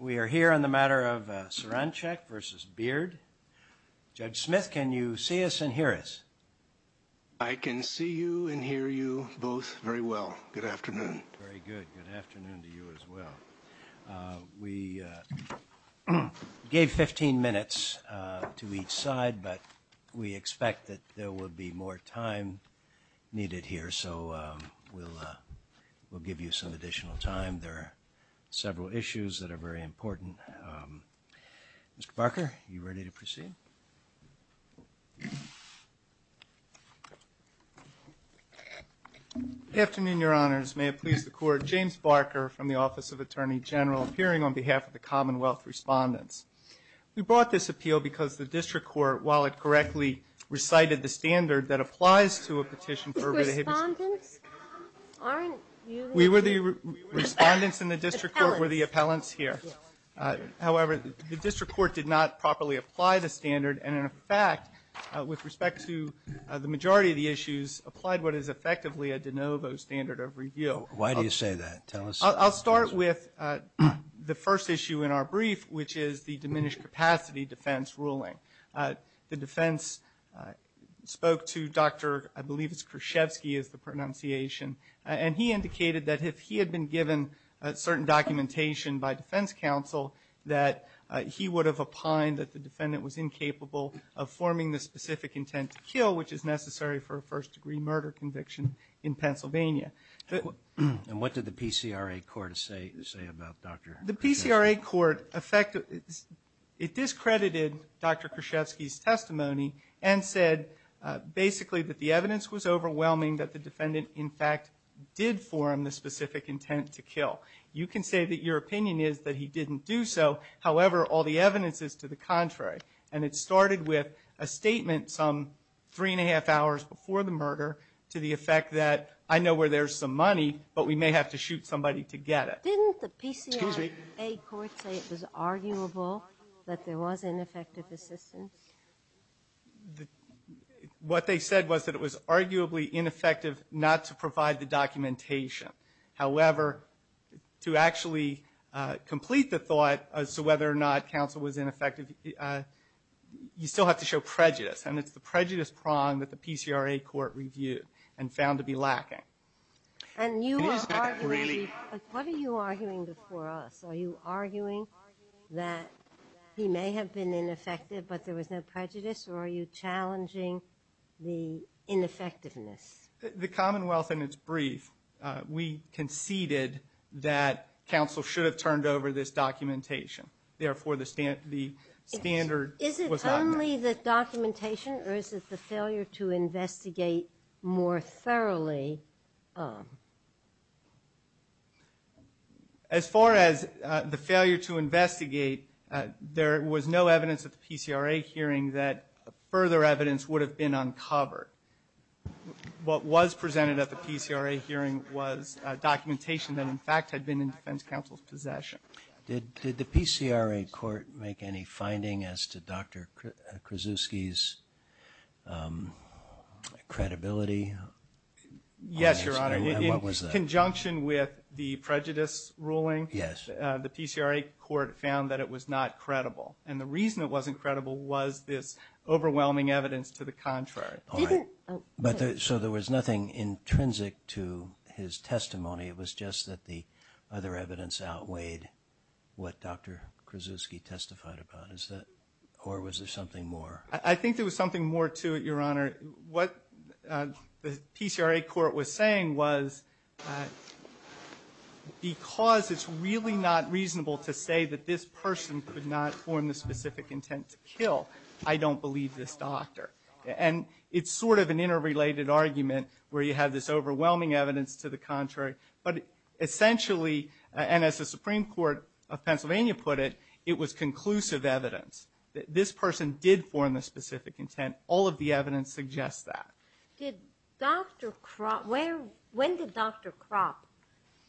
We are here on the matter of Saranchak v. Beard. Judge Smith, can you see us and hear us? I can see you and hear you both very well. Good afternoon. Very good. Good afternoon to you as well. We gave 15 minutes to each side, but we expect that there will be more time needed here, so we'll give you some additional time. There are several issues that are very important. Mr. Barker, are you ready to proceed? Good afternoon, Your Honors. May it please the Court, James Barker from the Office of Attorney General, appearing on behalf of the Commonwealth Respondents. We brought this appeal because the District Court, while it correctly recited the standard that applies to a petition We were the respondents and the District Court were the appellants here. However, the District Court did not properly apply the standard, and in fact, with respect to the majority of the issues, applied what is effectively a de novo standard of review. Why do you say that? Tell us. I'll start with the first issue in our brief, which is the diminished capacity defense ruling. The defense spoke to Dr. Kruschevsky, I believe is the pronunciation, and he indicated that if he had been given certain documentation by defense counsel, that he would have opined that the defendant was incapable of forming the specific intent to kill, which is necessary for a first-degree murder conviction in Pennsylvania. And what did the PCRA Court say about Dr. Kruschevsky? The PCRA Court discredited Dr. Kruschevsky's testimony and said basically that the evidence was overwhelming, that the defendant in fact did form the specific intent to kill. You can say that your opinion is that he didn't do so. However, all the evidence is to the contrary, and it started with a statement some three and a half hours before the murder to the effect that I know where there's some money, but we may have to shoot somebody to get it. Didn't the PCRA Court say it was arguable that there was ineffective assistance? What they said was that it was arguably ineffective not to provide the documentation. However, to actually complete the thought as to whether or not counsel was ineffective, you still have to show prejudice, and it's the prejudice prong that the PCRA Court reviewed and found to be lacking. And what are you arguing before us? Are you arguing that he may have been ineffective but there was no prejudice, or are you challenging the ineffectiveness? The Commonwealth, in its brief, we conceded that counsel should have turned over this documentation. Therefore, the standard was out there. Do you believe that documentation versus the failure to investigate more thoroughly? As far as the failure to investigate, there was no evidence at the PCRA hearing that further evidence would have been uncovered. What was presented at the PCRA hearing was documentation Did the PCRA Court make any finding as to Dr. Krasuski's credibility? Yes, Your Honor. In conjunction with the prejudice ruling, the PCRA Court found that it was not credible. And the reason it wasn't credible was this overwhelming evidence to the contrary. So there was nothing intrinsic to his testimony. It was just that the other evidence outweighed what Dr. Krasuski testified about. Or was there something more? I think there was something more to it, Your Honor. What the PCRA Court was saying was, because it's really not reasonable to say that this person could not form the specific intent to kill, I don't believe this doctor. And it's sort of an interrelated argument where you have this overwhelming evidence to the contrary. But essentially, and as the Supreme Court of Pennsylvania put it, it was conclusive evidence that this person did form the specific intent. All of the evidence suggests that. When did Dr. Kropp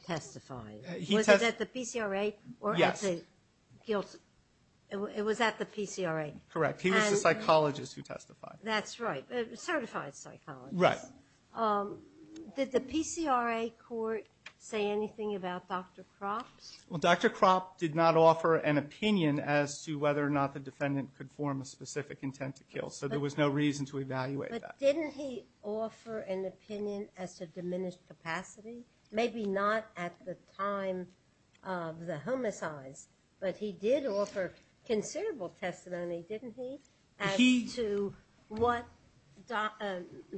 testify? Was it at the PCRA? Yes. Was that the PCRA? Correct. He was the psychologist who testified. That's right. A certified psychologist. Right. Did the PCRA Court say anything about Dr. Kropp? Well, Dr. Kropp did not offer an opinion as to whether or not the defendant could form a specific intent to kill. So there was no reason to evaluate that. But didn't he offer an opinion at the diminished capacity? Maybe not at the time of the homicide. But he did offer considerable testimony, didn't he, as to what the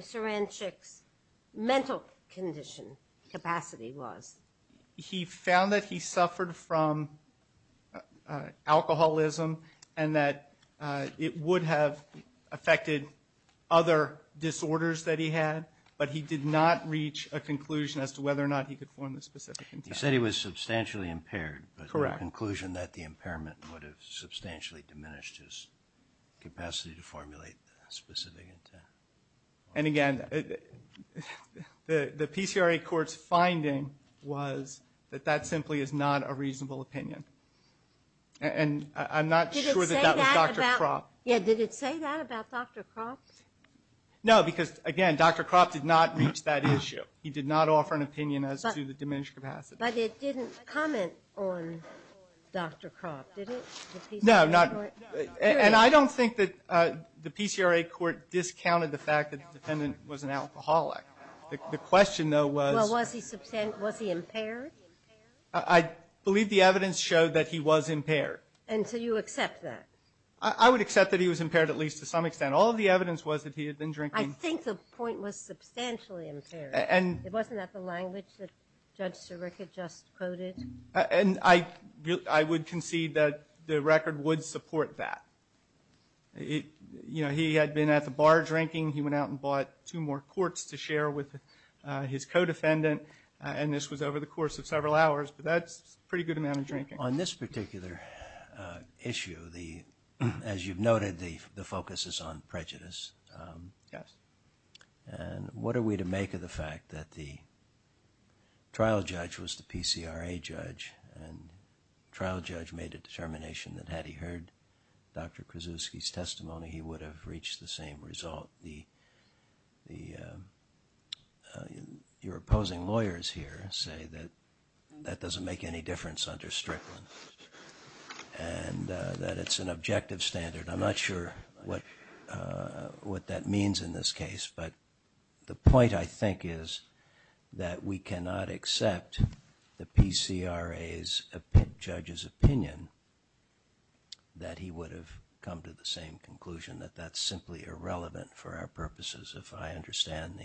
forensic mental condition capacity was. He found that he suffered from alcoholism and that it would have affected other disorders that he had, but he did not reach a conclusion as to whether or not he could form the specific intent. He said he was substantially impaired. But the conclusion that the impairment would have substantially diminished his capacity to formulate a specific intent. And, again, the PCRA Court's finding was that that simply is not a reasonable opinion. And I'm not sure that that was Dr. Kropp. Did it say that about Dr. Kropp? No, because, again, Dr. Kropp did not reach that issue. He did not offer an opinion as to the diminished capacity. But it didn't comment on Dr. Kropp, did it, the PCRA Court? No. And I don't think that the PCRA Court discounted the fact that the defendant was an alcoholic. The question, though, was… Well, was he impaired? I believe the evidence showed that he was impaired. And so you accept that? I would accept that he was impaired at least to some extent. All of the evidence was that he had been drinking. I think the point was substantially impaired. Wasn't that the language that Judge Sirica just quoted? And I would concede that the record would support that. You know, he had been at the bar drinking. He went out and bought two more quarts to share with his co-defendant. And this was over the course of several hours. But that's a pretty good amount of drinking. On this particular issue, as you've noted, the focus is on prejudice. Yes. And what are we to make of the fact that the trial judge was the PCRA judge and the trial judge made a determination that had he heard Dr. Krasuski's testimony, he would have reached the same result? Your opposing lawyers here say that that doesn't make any difference under Strickland and that it's an objective standard. I'm not sure what that means in this case. But the point, I think, is that we cannot accept the PCRA judge's opinion that he would have come to the same conclusion, that that's simply irrelevant for our purposes, if I understand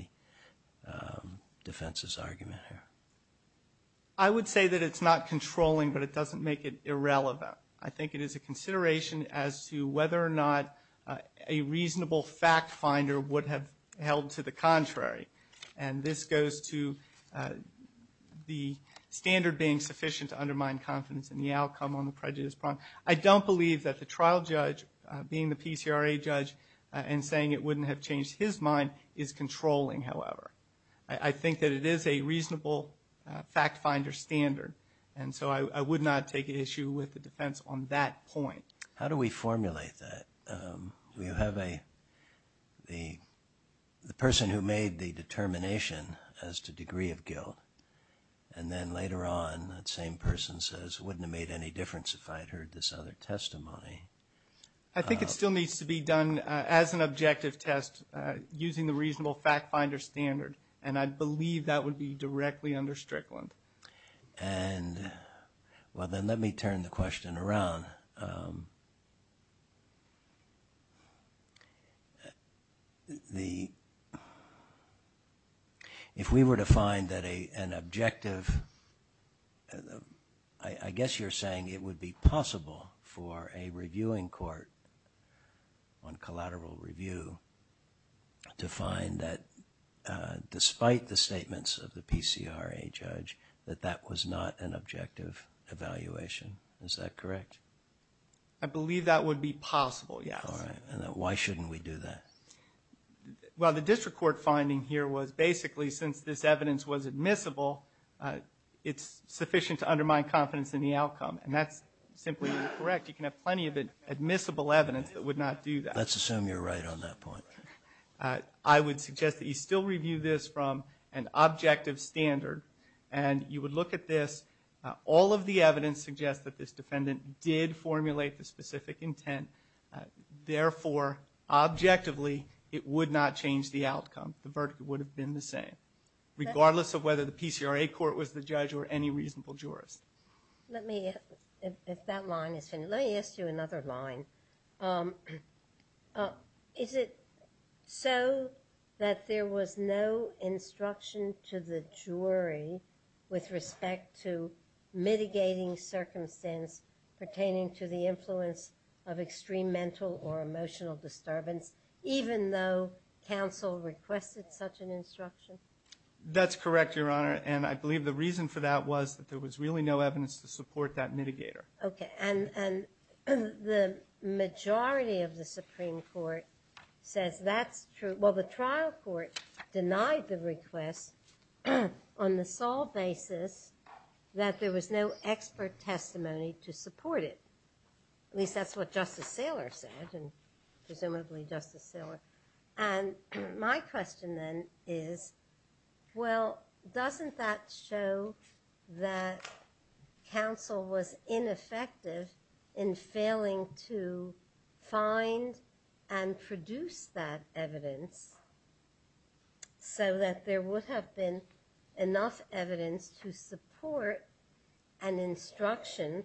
the defense's argument here. I would say that it's not controlling, but it doesn't make it irrelevant. I think it is a consideration as to whether or not a reasonable fact finder would have held to the contrary. And this goes to the standard being sufficient to undermine confidence in the outcome on the prejudice problem. I don't believe that the trial judge being the PCRA judge and saying it wouldn't have changed his mind is controlling, however. I think that it is a reasonable fact finder standard. And so I would not take issue with the defense on that point. How do we formulate that? You have the person who made the determination as to degree of guilt, and then later on that same person says it wouldn't have made any difference if I had heard this other testimony. I think it still needs to be done as an objective test using the reasonable fact finder standard, and I believe that would be directly under Strickland. Well, then let me turn the question around. If we were to find an objective, I guess you're saying it would be possible for a reviewing court, one collateral review, to find that despite the statements of the PCRA judge, that that was not an objective evaluation. Is that correct? I believe that would be possible. Why shouldn't we do that? Well, the district court finding here was basically since this evidence was admissible, it's sufficient to undermine confidence in the outcome. And that's simply incorrect. You can have plenty of admissible evidence that would not do that. Let's assume you're right on that point. I would suggest that you still review this from an objective standard, and you would look at this. All of the evidence suggests that this defendant did formulate the specific intent. Therefore, objectively, it would not change the outcome. The verdict would have been the same, regardless of whether the PCRA court was the judge or any reasonable jurors. Let me ask you another line. Is it so that there was no instruction to the jury with respect to mitigating circumstance pertaining to the influence of extreme mental or emotional disturbance, even though counsel requested such an instruction? That's correct, Your Honor. And I believe the reason for that was that there was really no evidence to support that mitigator. Okay. And the majority of the Supreme Court says that's true. Well, the trial court denied the request on the sole basis that there was no expert testimony to support it. At least that's what Justice Thaler said, and presumably Justice Thaler. And my question then is, well, doesn't that show that counsel was ineffective in failing to find and produce that evidence so that there would have been enough evidence to support an instruction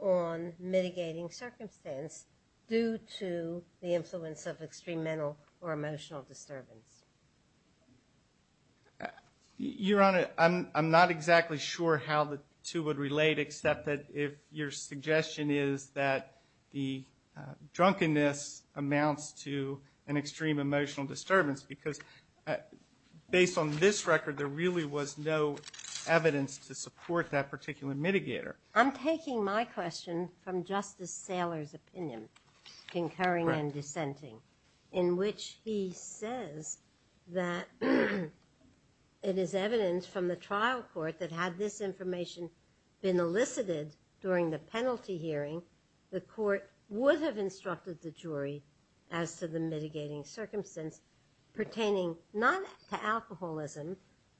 on mitigating circumstance due to the influence of extreme mental or emotional disturbance? Your Honor, I'm not exactly sure how the two would relate, except that if your suggestion is that the drunkenness amounts to an extreme emotional disturbance, because based on this record, there really was no evidence to support that particular mitigator. I'm taking my question from Justice Thaler's opinion, concurring and dissenting, in which he says that it is evident from the trial court that had this information been elicited during the penalty hearing, the court would have instructed the jury as to the mitigating circumstance pertaining not to alcoholism,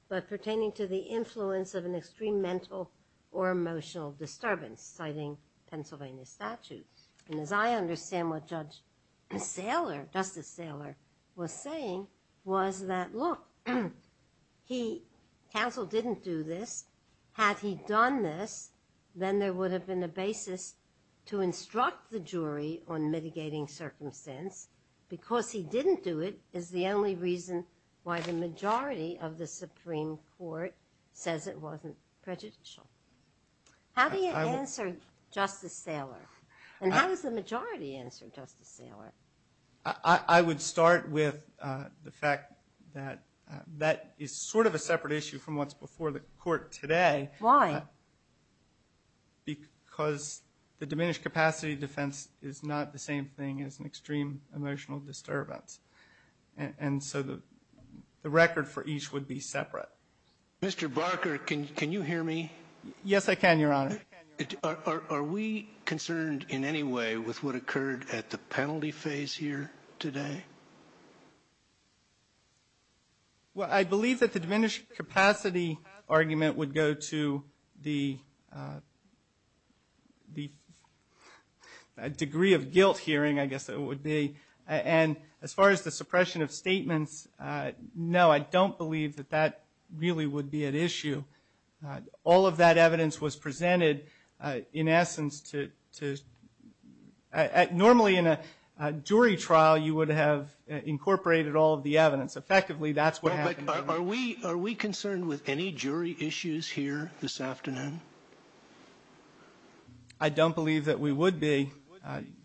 but pertaining to the influence of an extreme mental or emotional disturbance, citing Pennsylvania statutes. And as I understand what Judge Thaler, Justice Thaler was saying, was that, look, he, counsel didn't do this. Had he done this, then there would have been a basis to instruct the jury on mitigating circumstance. Because he didn't do it is the only reason why the majority of the Supreme Court says it wasn't prejudicial. How do you answer Justice Thaler? And how does the majority answer Justice Thaler? I would start with the fact that that is sort of a separate issue from what's before the court today. Why? Because the diminished capacity defense is not the same thing as an extreme emotional disturbance. And so the record for each would be separate. Mr. Barker, can you hear me? Yes, I can, Your Honor. Are we concerned in any way with what occurred at the penalty phase here today? Well, I believe that the diminished capacity argument would go to the degree of guilt hearing, I guess it would be. And as far as the suppression of statements, no, I don't believe that that really would be an issue. All of that evidence was presented in essence to – normally in a jury trial, you would have a jury trial. You would have incorporated all of the evidence. Effectively, that's what happened. Are we concerned with any jury issues here this afternoon? I don't believe that we would be.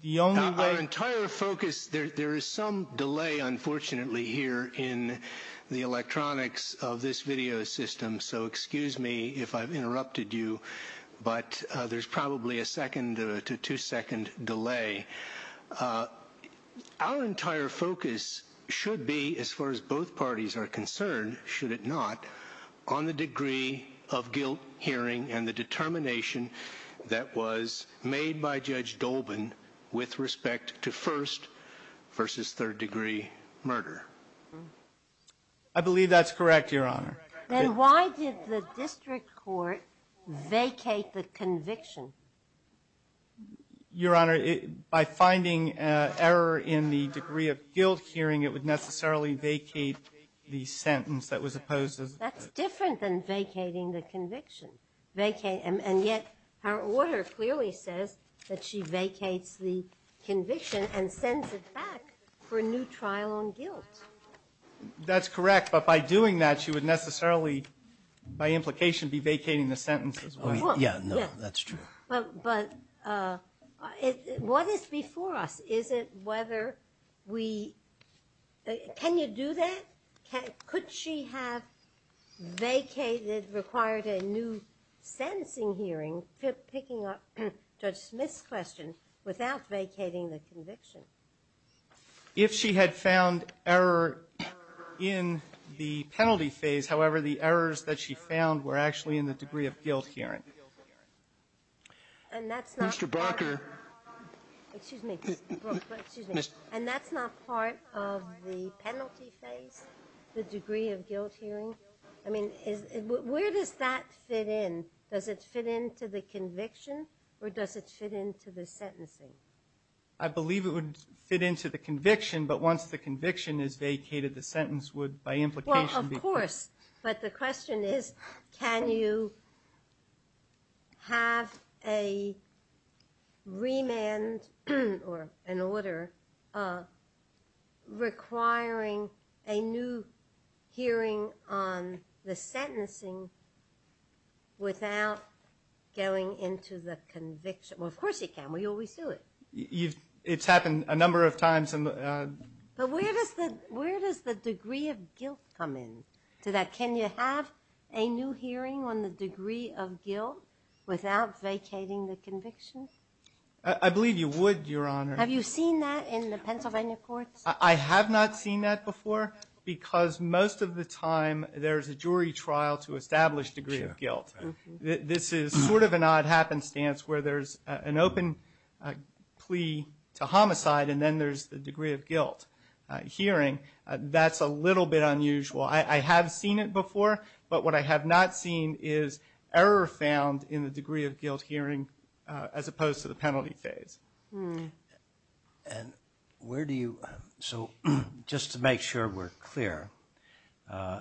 The only way – Our entire focus – there is some delay, unfortunately, here in the electronics of this video system. So excuse me if I've interrupted you, but there's probably a second to two-second delay. Our entire focus should be, as far as both parties are concerned, should it not, on the degree of guilt hearing and the determination that was made by Judge Dolben with respect to first-versus-third-degree murder. I believe that's correct, Your Honor. Then why did the district court vacate the conviction? Your Honor, by finding error in the degree of guilt hearing, it would necessarily vacate the sentence that was opposed to the conviction. That's different than vacating the conviction. And yet her order clearly says that she vacates the conviction and sends it back for a new trial on guilt. That's correct. But by doing that, she would necessarily, by implication, be vacating the sentence. Yeah, no, that's true. But what is before us? Is it whether we – can you do that? Could she have vacated, required a new sentencing hearing, picking up Judge Smith's question without vacating the conviction? If she had found error in the penalty phase, however, the errors that she found were actually in the degree of guilt hearing. And that's not part of the penalty phase, the degree of guilt hearing? I mean, where does that fit in? Does it fit into the conviction or does it fit into the sentencing? I believe it would fit into the conviction, but once the conviction is vacated, the sentence would, by implication – Well, of course. But the question is, can you have a remand or an order requiring a new hearing on the sentencing without going into the conviction? Well, of course you can. We always do it. It's happened a number of times. But where does the degree of guilt come in? Can you have a new hearing on the degree of guilt without vacating the conviction? I believe you would, Your Honor. Have you seen that in the Pennsylvania courts? I have not seen that before because most of the time there's a jury trial to establish degree of guilt. This is sort of an odd happenstance where there's an open plea to homicide and then there's the degree of guilt hearing. That's a little bit unusual. I have seen it before, but what I have not seen is error found in the degree of guilt hearing as opposed to the penalty phase. And where do you – so just to make sure we're clear, the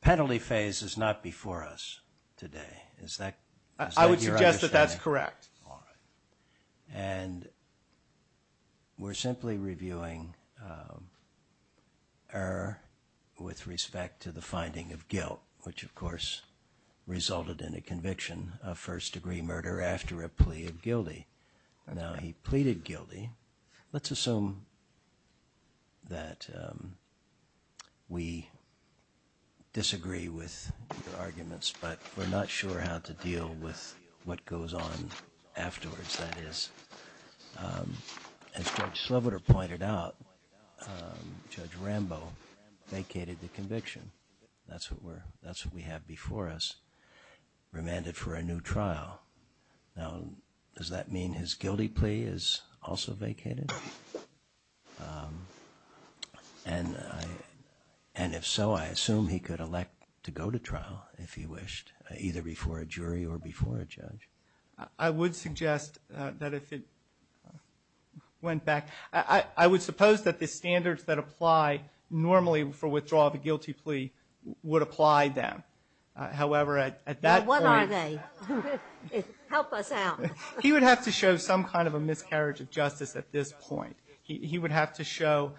penalty phase is not before us today. Is that your understanding? I would suggest that that's correct, Your Honor. And we're simply reviewing error with respect to the finding of guilt, which, of course, resulted in a conviction of first-degree murder after a plea of guilty. Now, he pleaded guilty. Let's assume that we disagree with the arguments, but we're not sure how to deal with what goes on afterwards, that is. As Judge Sloboda pointed out, Judge Rambo vacated the conviction. That's what we have before us. Remanded for a new trial. Now, does that mean his guilty plea is also vacated? And if so, I assume he could elect to go to trial if he wished, either before a jury or before a judge. I would suggest that if it went back – I would suppose that the standards that apply normally for withdrawal of a guilty plea would apply then. What are they? Help us out. He would have to show some kind of a miscarriage of justice at this point. He would have to show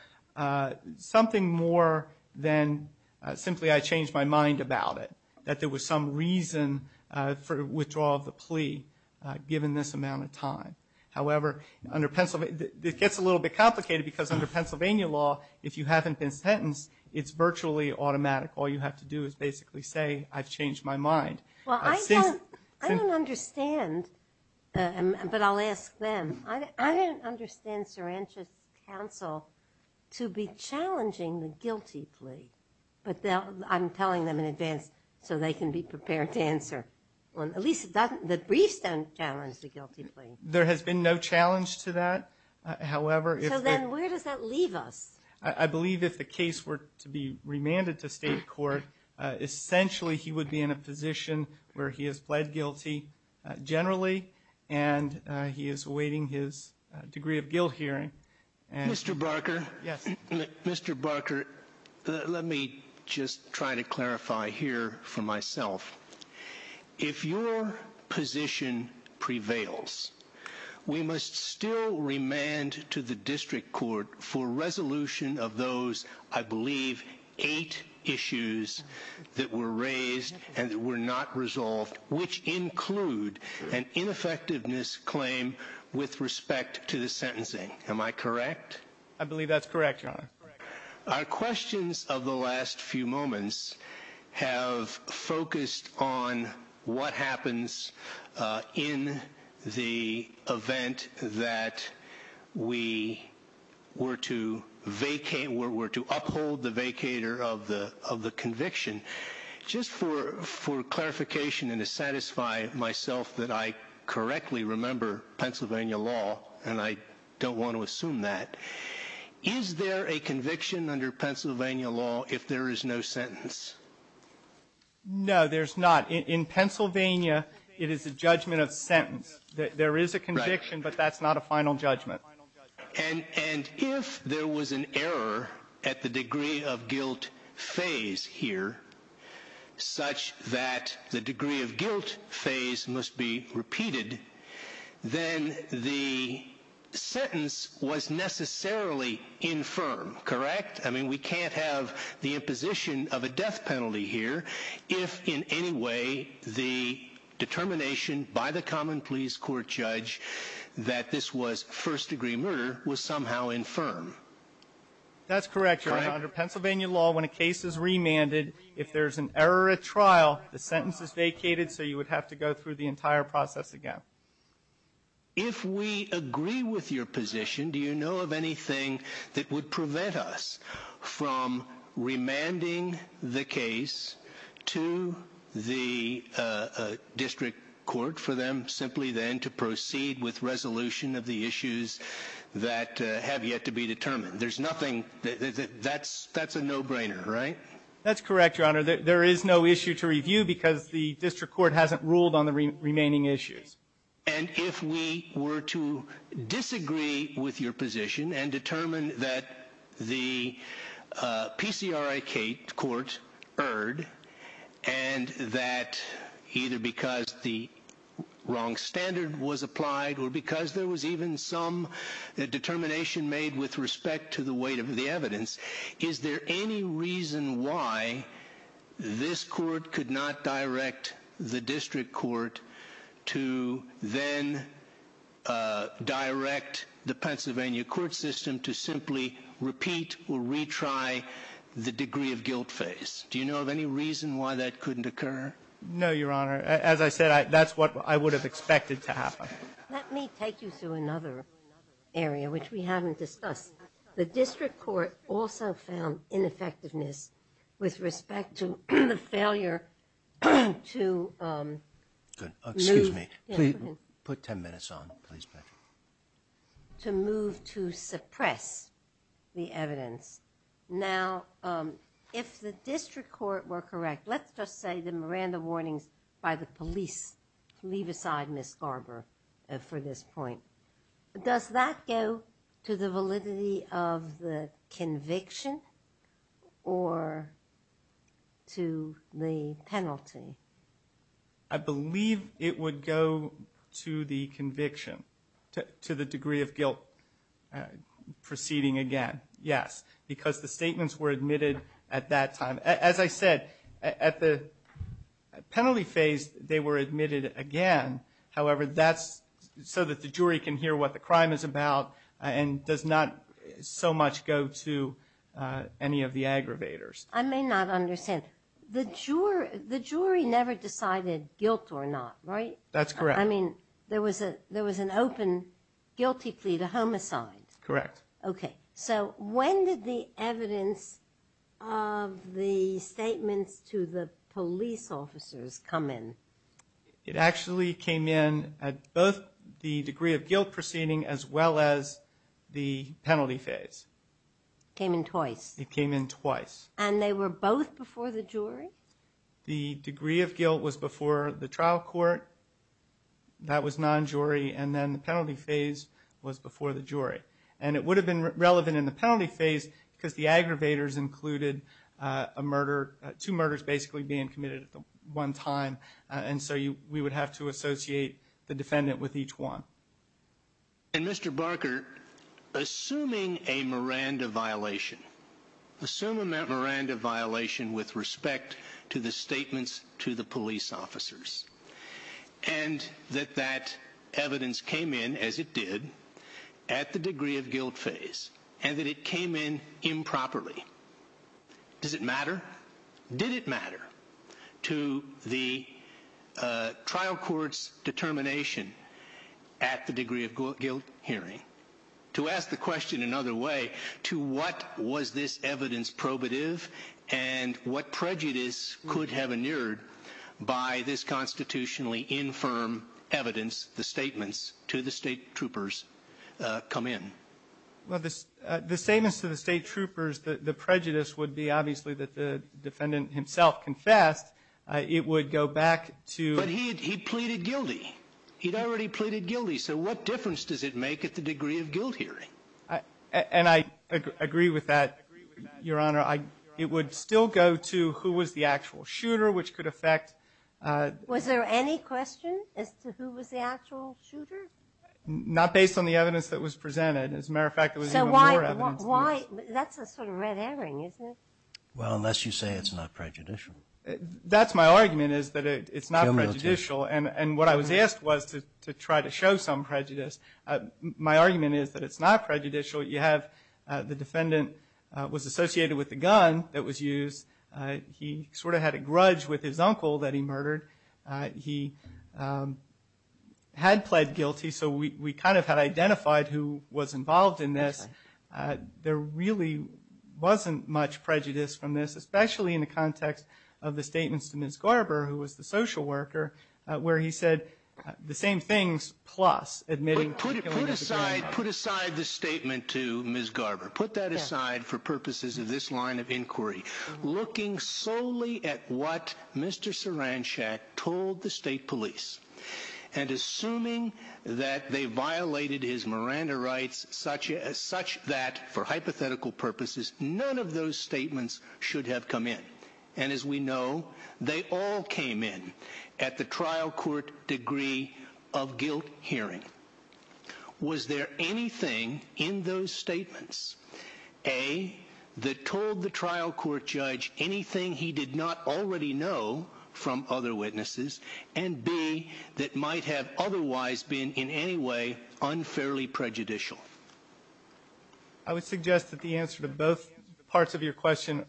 something more than simply, I changed my mind about it, that there was some reason for withdrawal of the plea given this amount of time. However, it gets a little bit complicated because under Pennsylvania law, if you haven't been sentenced, it's virtually automatic. All you have to do is basically say, I've changed my mind. Well, I don't understand. But I'll ask them. I don't understand Sarancha's counsel to be challenging the guilty plea. But I'm telling them in advance so they can be prepared to answer. At least the brief doesn't challenge the guilty plea. There has been no challenge to that. So then where does that leave us? I believe if the case were to be remanded to state court, essentially he would be in a position where he has pled guilty generally and he is awaiting his degree of guilt hearing. Mr. Barker, let me just try to clarify here for myself. If your position prevails, we must still remand to the district court for resolution of those, I believe, eight issues that were raised and were not resolved, which include an ineffectiveness claim with respect to the sentencing. Am I correct? I believe that's correct. Our questions of the last few moments have focused on what happens in the event that we were to uphold the vacator of the conviction. Just for clarification and to satisfy myself that I correctly remember Pennsylvania law, and I don't want to assume that, is there a conviction under Pennsylvania law if there is no sentence? No, there's not. In Pennsylvania, it is a judgment of sentence. There is a conviction, but that's not a final judgment. And if there was an error at the degree of guilt phase here, such that the degree of guilt phase must be repeated, then the sentence was necessarily infirm, correct? I mean, we can't have the imposition of a death penalty here if in any way the determination by the common pleas court judge that this was first degree murder was somehow infirm. That's correct, Your Honor. Under Pennsylvania law, when a case is remanded, if there's an error at trial, the sentence is vacated, so you would have to go through the entire process again. If we agree with your position, do you know of anything that would prevent us from remanding the case to the district court for them simply then to proceed with resolution of the issues that have yet to be determined? There's nothing – that's a no-brainer, right? That's correct, Your Honor. There is no issue to review because the district court hasn't ruled on the remaining issues. And if we were to disagree with your position and determine that the PCRI-K court erred and that either because the wrong standard was applied or because there was even some determination made with respect to the weight of the evidence, is there any reason why this court could not direct the district court to then direct the Pennsylvania court system to simply repeat or retry the degree of guilt phase? Do you know of any reason why that couldn't occur? No, Your Honor. As I said, that's what I would have expected to happen. Let me take you through another area, which we haven't discussed. The district court also found ineffectiveness with respect to the failure to move to suppress the evidence. Now, if the district court were correct, let's just say the Miranda warnings by the police leave aside Ms. Garber for this point. Does that go to the validity of the conviction or to the penalty? I believe it would go to the conviction, to the degree of guilt proceeding again, yes, because the statements were admitted at that time. As I said, at the penalty phase, they were admitted again. However, that's so that the jury can hear what the crime is about and does not so much go to any of the aggravators. I may not understand. The jury never decided guilt or not, right? That's correct. I mean, there was an open guilty plea to homicide. Correct. Okay, so when did the evidence of the statement to the police officers come in? It actually came in at both the degree of guilt proceeding as well as the penalty phase. It came in twice. It came in twice. And they were both before the jury? The degree of guilt was before the trial court. That was non-jury. And then the penalty phase was before the jury. And it would have been relevant in the penalty phase because the aggravators included a murder, two murders basically being committed at one time. And so we would have to associate the defendant with each one. And, Mr. Barker, assuming a Miranda violation, assuming that Miranda violation with respect to the statements to the police officers, and that that evidence came in, as it did, at the degree of guilt phase, and that it came in improperly, does it matter? Did it matter to the trial court's determination at the degree of guilt hearing? To ask the question another way, to what was this evidence probative and what prejudice could have inured by this constitutionally infirm evidence, the statements to the state troopers come in? Well, the statements to the state troopers, the prejudice would be obviously that the defendant himself confessed. It would go back to But he pleaded guilty. He'd already pleaded guilty. So what difference does it make at the degree of guilt hearing? And I agree with that, Your Honor. It would still go to who was the actual shooter, which could affect Was there any question as to who was the actual shooter? Not based on the evidence that was presented. As a matter of fact, it was in the court evidence. That's a sort of red herring, isn't it? Well, unless you say it's not prejudicial. That's my argument, is that it's not prejudicial. And what I was asked was to try to show some prejudice. My argument is that it's not prejudicial. You have the defendant was associated with the gun that was used. He sort of had a grudge with his uncle that he murdered. He had pled guilty, so we kind of had identified who was involved in this. There really wasn't much prejudice from this, especially in the context of the statements to Ms. Garber, who was the social worker, where he said the same things, plus admitting. Put aside the statement to Ms. Garber. Put that aside for purposes of this line of inquiry. Looking solely at what Mr. Saranchat told the state police and assuming that they violated his Miranda rights such that, for hypothetical purposes, none of those statements should have come in. And as we know, they all came in at the trial court degree of guilt hearing. Was there anything in those statements, A, that told the trial court judge anything he did not already know from other witnesses, and, B, that might have otherwise been in any way unfairly prejudicial? I would suggest that the answer to both parts of your question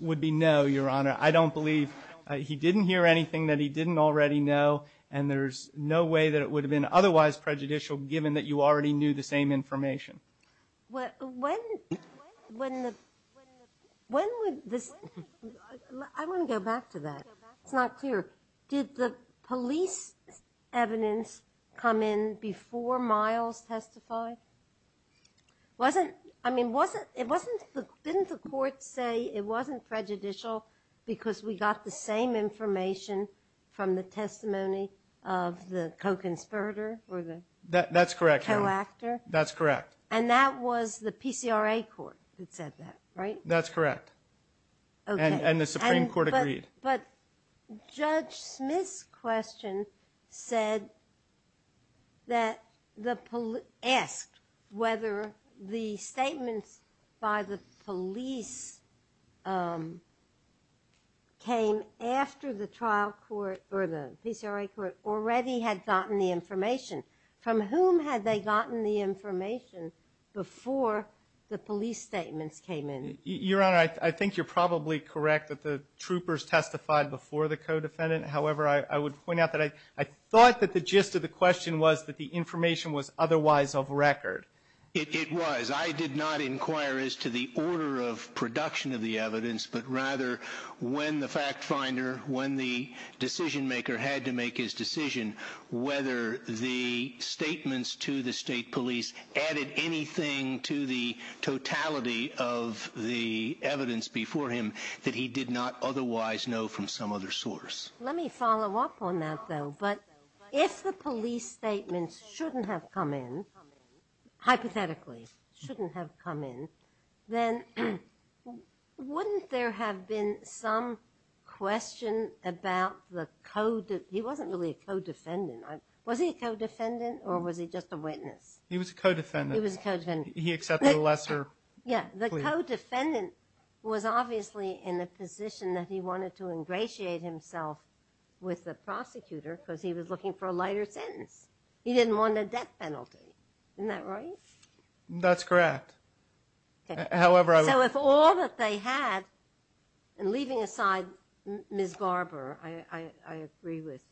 would be no, Your Honor. I don't believe he didn't hear anything that he didn't already know, and there's no way that it would have been otherwise prejudicial given that you already knew the same information. When was this – I want to go back to that. It's not clear. Did the police evidence come in before Miles testified? Wasn't – I mean, wasn't – didn't the court say it wasn't prejudicial because we got the same information from the testimony of the co-conspirator or the – That's correct, Your Honor. – co-actor? That's correct. And that was the PCRA court that said that, right? That's correct. Okay. And the Supreme Court agreed. But Judge Smith's question said that the – asked whether the statements by the police came after the trial court or the PCRA court already had gotten the information. From whom had they gotten the information before the police statements came in? Your Honor, I think you're probably correct that the troopers testified before the co-defendant. However, I would point out that I thought that the gist of the question was that the information was otherwise of record. It was. I did not inquire as to the order of production of the evidence, but rather when the fact finder, when the decision maker had to make his decision, whether the statements to the state police added anything to the totality of the evidence before him that he did not otherwise know from some other source. Let me follow up on that, though. But if the police statements shouldn't have come in, hypothetically shouldn't have come in, then wouldn't there have been some question about the – he wasn't really a co-defendant. Was he a co-defendant or was he just a witness? He was a co-defendant. He was a co-defendant. He accepted a lesser plea. Yeah. The co-defendant was obviously in a position that he wanted to ingratiate himself with the prosecutor because he was looking for a lighter sentence. He didn't want a death penalty. Isn't that right? That's correct. So if all that they had – and leaving aside Ms. Barber, I agree with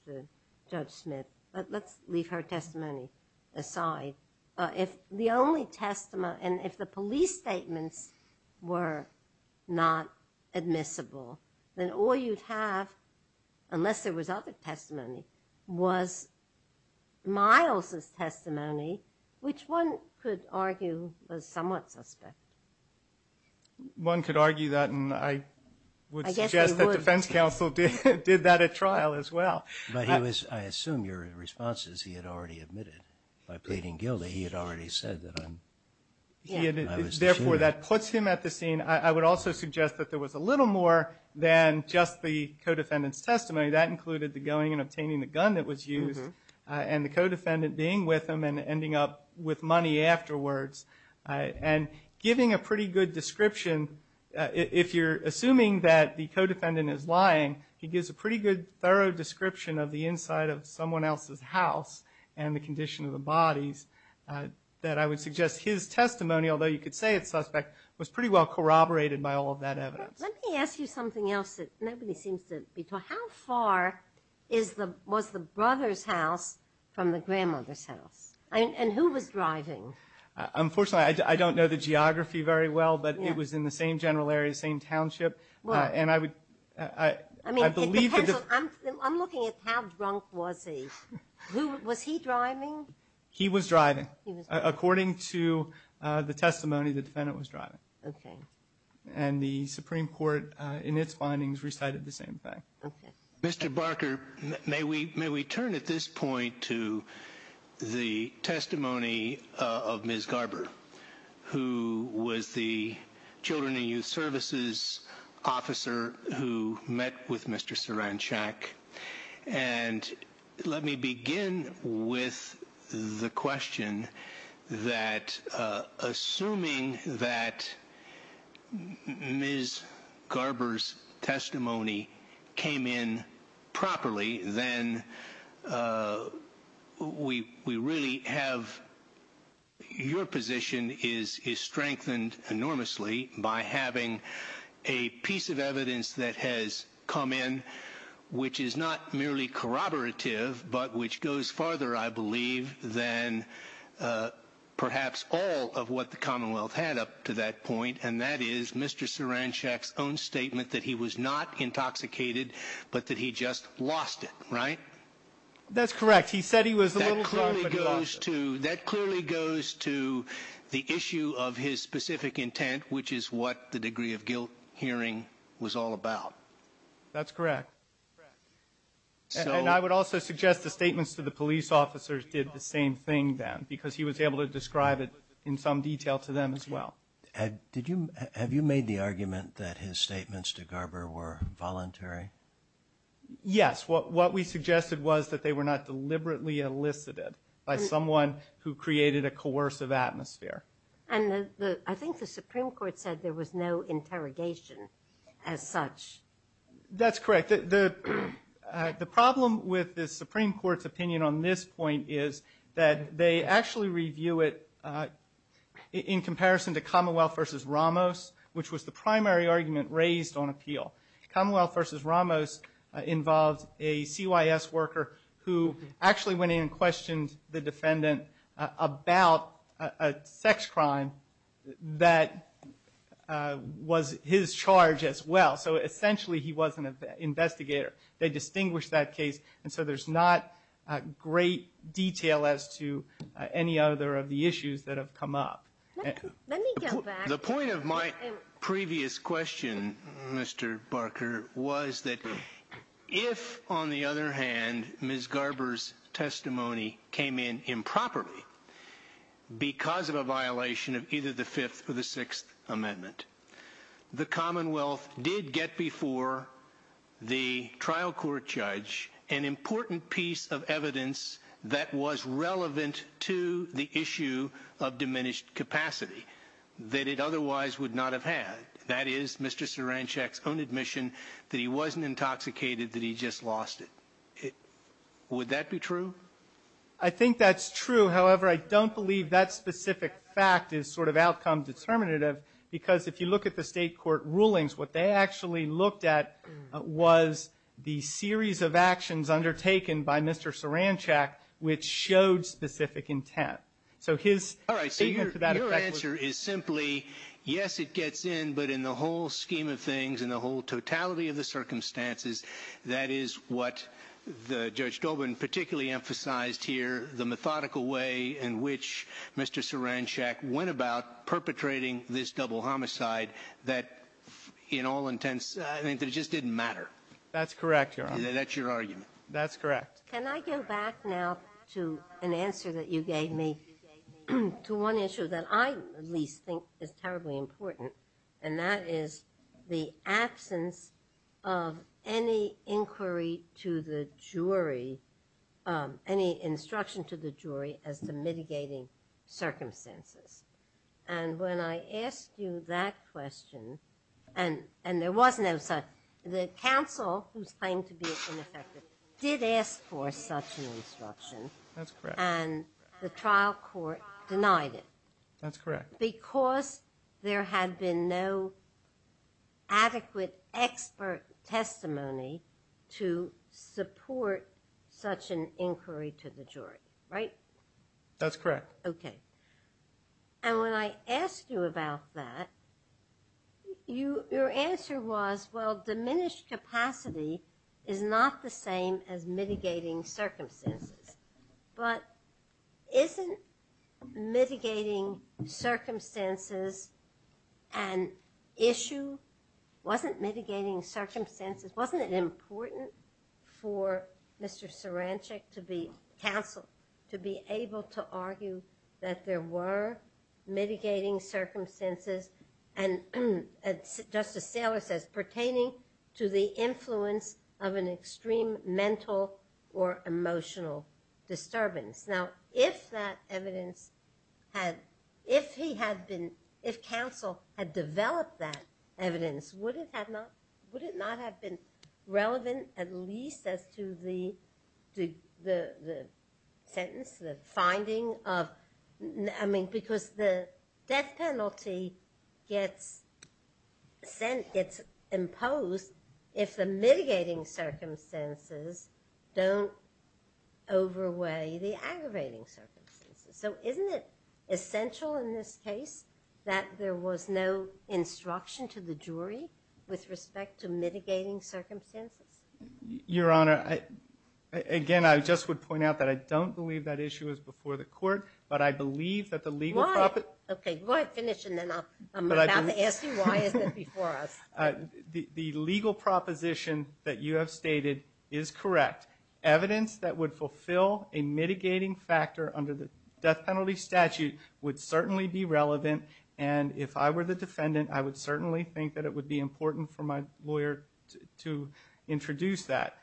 Judge Smith, but let's leave her testimony aside. If the only testimony – and if the police statements were not admissible, then all you'd have, unless there was other testimony, was Miles' testimony, which one could argue was somewhat substantive. One could argue that, and I would suggest the defense counsel did that at trial as well. But he was – I assume your response is he had already admitted by pleading guilty. He had already said that. Therefore, that puts him at the scene. I would also suggest that there was a little more than just the co-defendant's testimony. That included the going and obtaining the gun that was used and the co-defendant being with him and ending up with money afterwards and giving a pretty good description. If you're assuming that the co-defendant is lying, he gives a pretty good, thorough description of the inside of someone else's house and the condition of the bodies that I would suggest his testimony, although you could say it's suspect, was pretty well corroborated by all of that evidence. Let me ask you something else that nobody seems to be talking about. How far was the brother's house from the grandmother's house? And who was driving? Unfortunately, I don't know the geography very well, but it was in the same general area, same township. I'm looking at how drunk was he. Was he driving? He was driving, according to the testimony, the defendant was driving. Okay. And the Supreme Court, in its findings, recited the same thing. Okay. Mr. Barker, may we turn at this point to the testimony of Ms. Garber, who was the Children and Youth Services officer who met with Mr. Saranchak. And let me begin with the question that, assuming that Ms. Garber's testimony came in properly, then we really have your position is strengthened enormously by having a piece of evidence that has come in, which is not merely corroborative, but which goes farther, I believe, than perhaps all of what the Commonwealth had up to that point, and that is Mr. Saranchak's own statement that he was not intoxicated, but that he just lost it. Right? That's correct. He said he was a little drunk and lost it. That clearly goes to the issue of his specific intent, which is what the degree of guilt hearing was all about. That's correct. And I would also suggest the statements to the police officers did the same thing then, because he was able to describe it in some detail to them as well. Have you made the argument that his statements to Garber were voluntary? Yes. What we suggested was that they were not deliberately elicited by someone who created a coercive atmosphere. And I think the Supreme Court said there was no interrogation as such. That's correct. The problem with the Supreme Court's opinion on this point is that they actually review it in comparison to Commonwealth v. Ramos, which was the primary argument raised on appeal. Commonwealth v. Ramos involves a CYS worker who actually went in and questioned the defendant about a sex crime that was his charge as well. So essentially he wasn't an investigator. They distinguished that case, and so there's not great detail as to any other of the issues that have come up. Let me go back. The point of my previous question, Mr. Barker, was that if, on the other hand, Ms. Garber's testimony came in improperly because of a violation of either the Fifth or the Sixth Amendment, the Commonwealth did get before the trial court judge an important piece of evidence that was relevant to the issue of diminished capacity, that it otherwise would not have had. That is Mr. Saranchak's own admission that he wasn't intoxicated, that he just lost it. Would that be true? I think that's true. However, I don't believe that specific fact is sort of outcome determinative because if you look at the state court rulings, what they actually looked at was the series of actions undertaken by Mr. Saranchak which showed specific intent. All right. So your answer is simply, yes, it gets in, but in the whole scheme of things, in the whole totality of the circumstances, that is what Judge Dobin particularly emphasized here, the methodical way in which Mr. Saranchak went about perpetrating this double homicide that in all intents, I think it just didn't matter. That's correct, Your Honor. That's your argument. That's correct. Can I go back now to an answer that you gave me, to one issue that I at least think is terribly important, and that is the absence of any inquiry to the jury, any instruction to the jury as to mitigating circumstances. And when I asked you that question, and there was no such. The counsel who claimed to be ineffective did ask for such an instruction. That's correct. And the trial court denied it. That's correct. Because there had been no adequate expert testimony to support such an inquiry to the jury. Right? That's correct. Okay. And when I asked you about that, your answer was, well, diminished capacity is not the same as mitigating circumstances. But isn't mitigating circumstances an issue? Wasn't mitigating circumstances, wasn't it important for Mr. Sarancic to be counsel, to be able to argue that there were mitigating circumstances, and as Justice Gailer says, pertaining to the influence of an extreme mental or emotional disturbance. Now, if that evidence had, if he had been, if counsel had developed that evidence, would it not have been relevant at least as to the sentence, the finding of, I mean, Because the death penalty gets imposed if the mitigating circumstances don't overweigh the aggravating circumstances. So isn't it essential in this case that there was no instruction to the jury with respect to mitigating circumstances? Your Honor, again, I just would point out that I don't believe that issue is before the court, but I believe that the legal proposition. Why? Okay, why finish and then I'm going to ask you why is it before us? The legal proposition that you have stated is correct. Evidence that would fulfill a mitigating factor under the death penalty statute would certainly be relevant, and if I were the defendant, I would certainly think that it would be important for my lawyer to introduce that.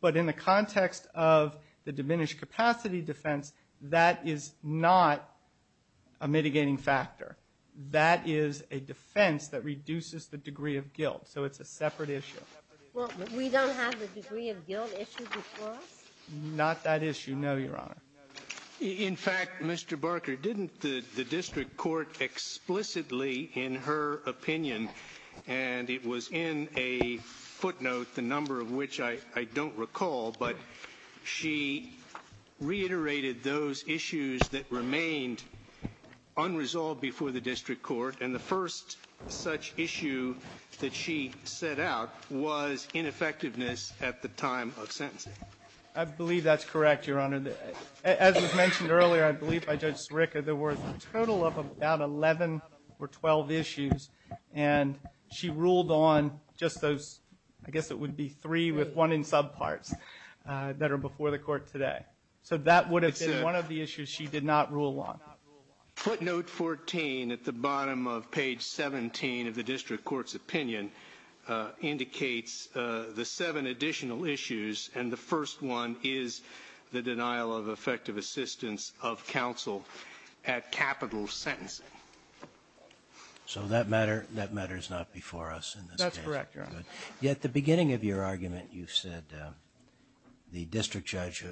But in the context of the diminished capacity defense, that is not a mitigating factor. That is a defense that reduces the degree of guilt, so it's a separate issue. Well, we don't have the degree of guilt issue before us? Not that issue, no, Your Honor. In fact, Mr. Barker, didn't the district court explicitly in her opinion, and it was in a footnote, the number of which I don't recall, but she reiterated those issues that remained unresolved before the district court, and the first such issue that she set out was ineffectiveness at the time of sentencing. I believe that's correct, Your Honor. As was mentioned earlier, I believe by Judge Sirica, there were a total of about 11 or 12 issues, and she ruled on just those, I guess it would be three with one in subparts that are before the court today. So that would have been one of the issues she did not rule on. Footnote 14 at the bottom of page 17 of the district court's opinion indicates the seven additional issues, and the first one is the denial of effective assistance of counsel at capital sentencing. So that matter is not before us in this case. That's correct, Your Honor. Yet at the beginning of your argument, you said the district judge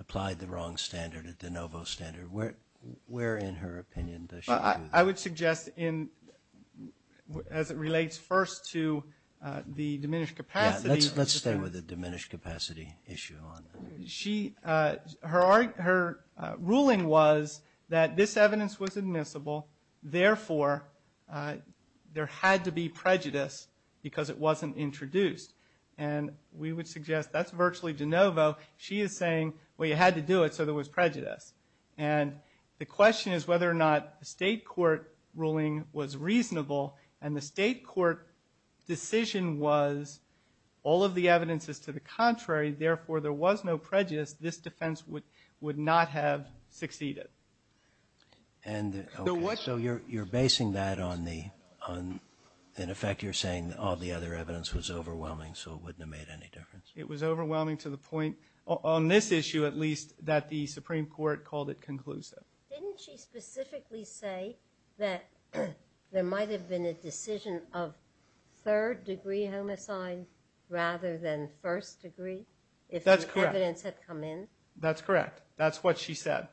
applied the wrong standard, a de novo standard. Where in her opinion does she do that? I would suggest as it relates first to the diminished capacity. Let's start with the diminished capacity issue. Her ruling was that this evidence was admissible, therefore there had to be prejudice because it wasn't introduced. And we would suggest that's virtually de novo. She is saying, well, you had to do it so there was prejudice. And the question is whether or not the state court ruling was reasonable, and the state court decision was all of the evidence is to the contrary, therefore there was no prejudice, this defense would not have succeeded. So you're basing that on the fact you're saying all the other evidence was overwhelming, so it wouldn't have made any difference. It was overwhelming to the point, on this issue at least, that the Supreme Court called it conclusive. Didn't she specifically say that there might have been a decision of third degree homicides rather than first degree? That's correct. If the evidence had come in. That's correct. That's what she said.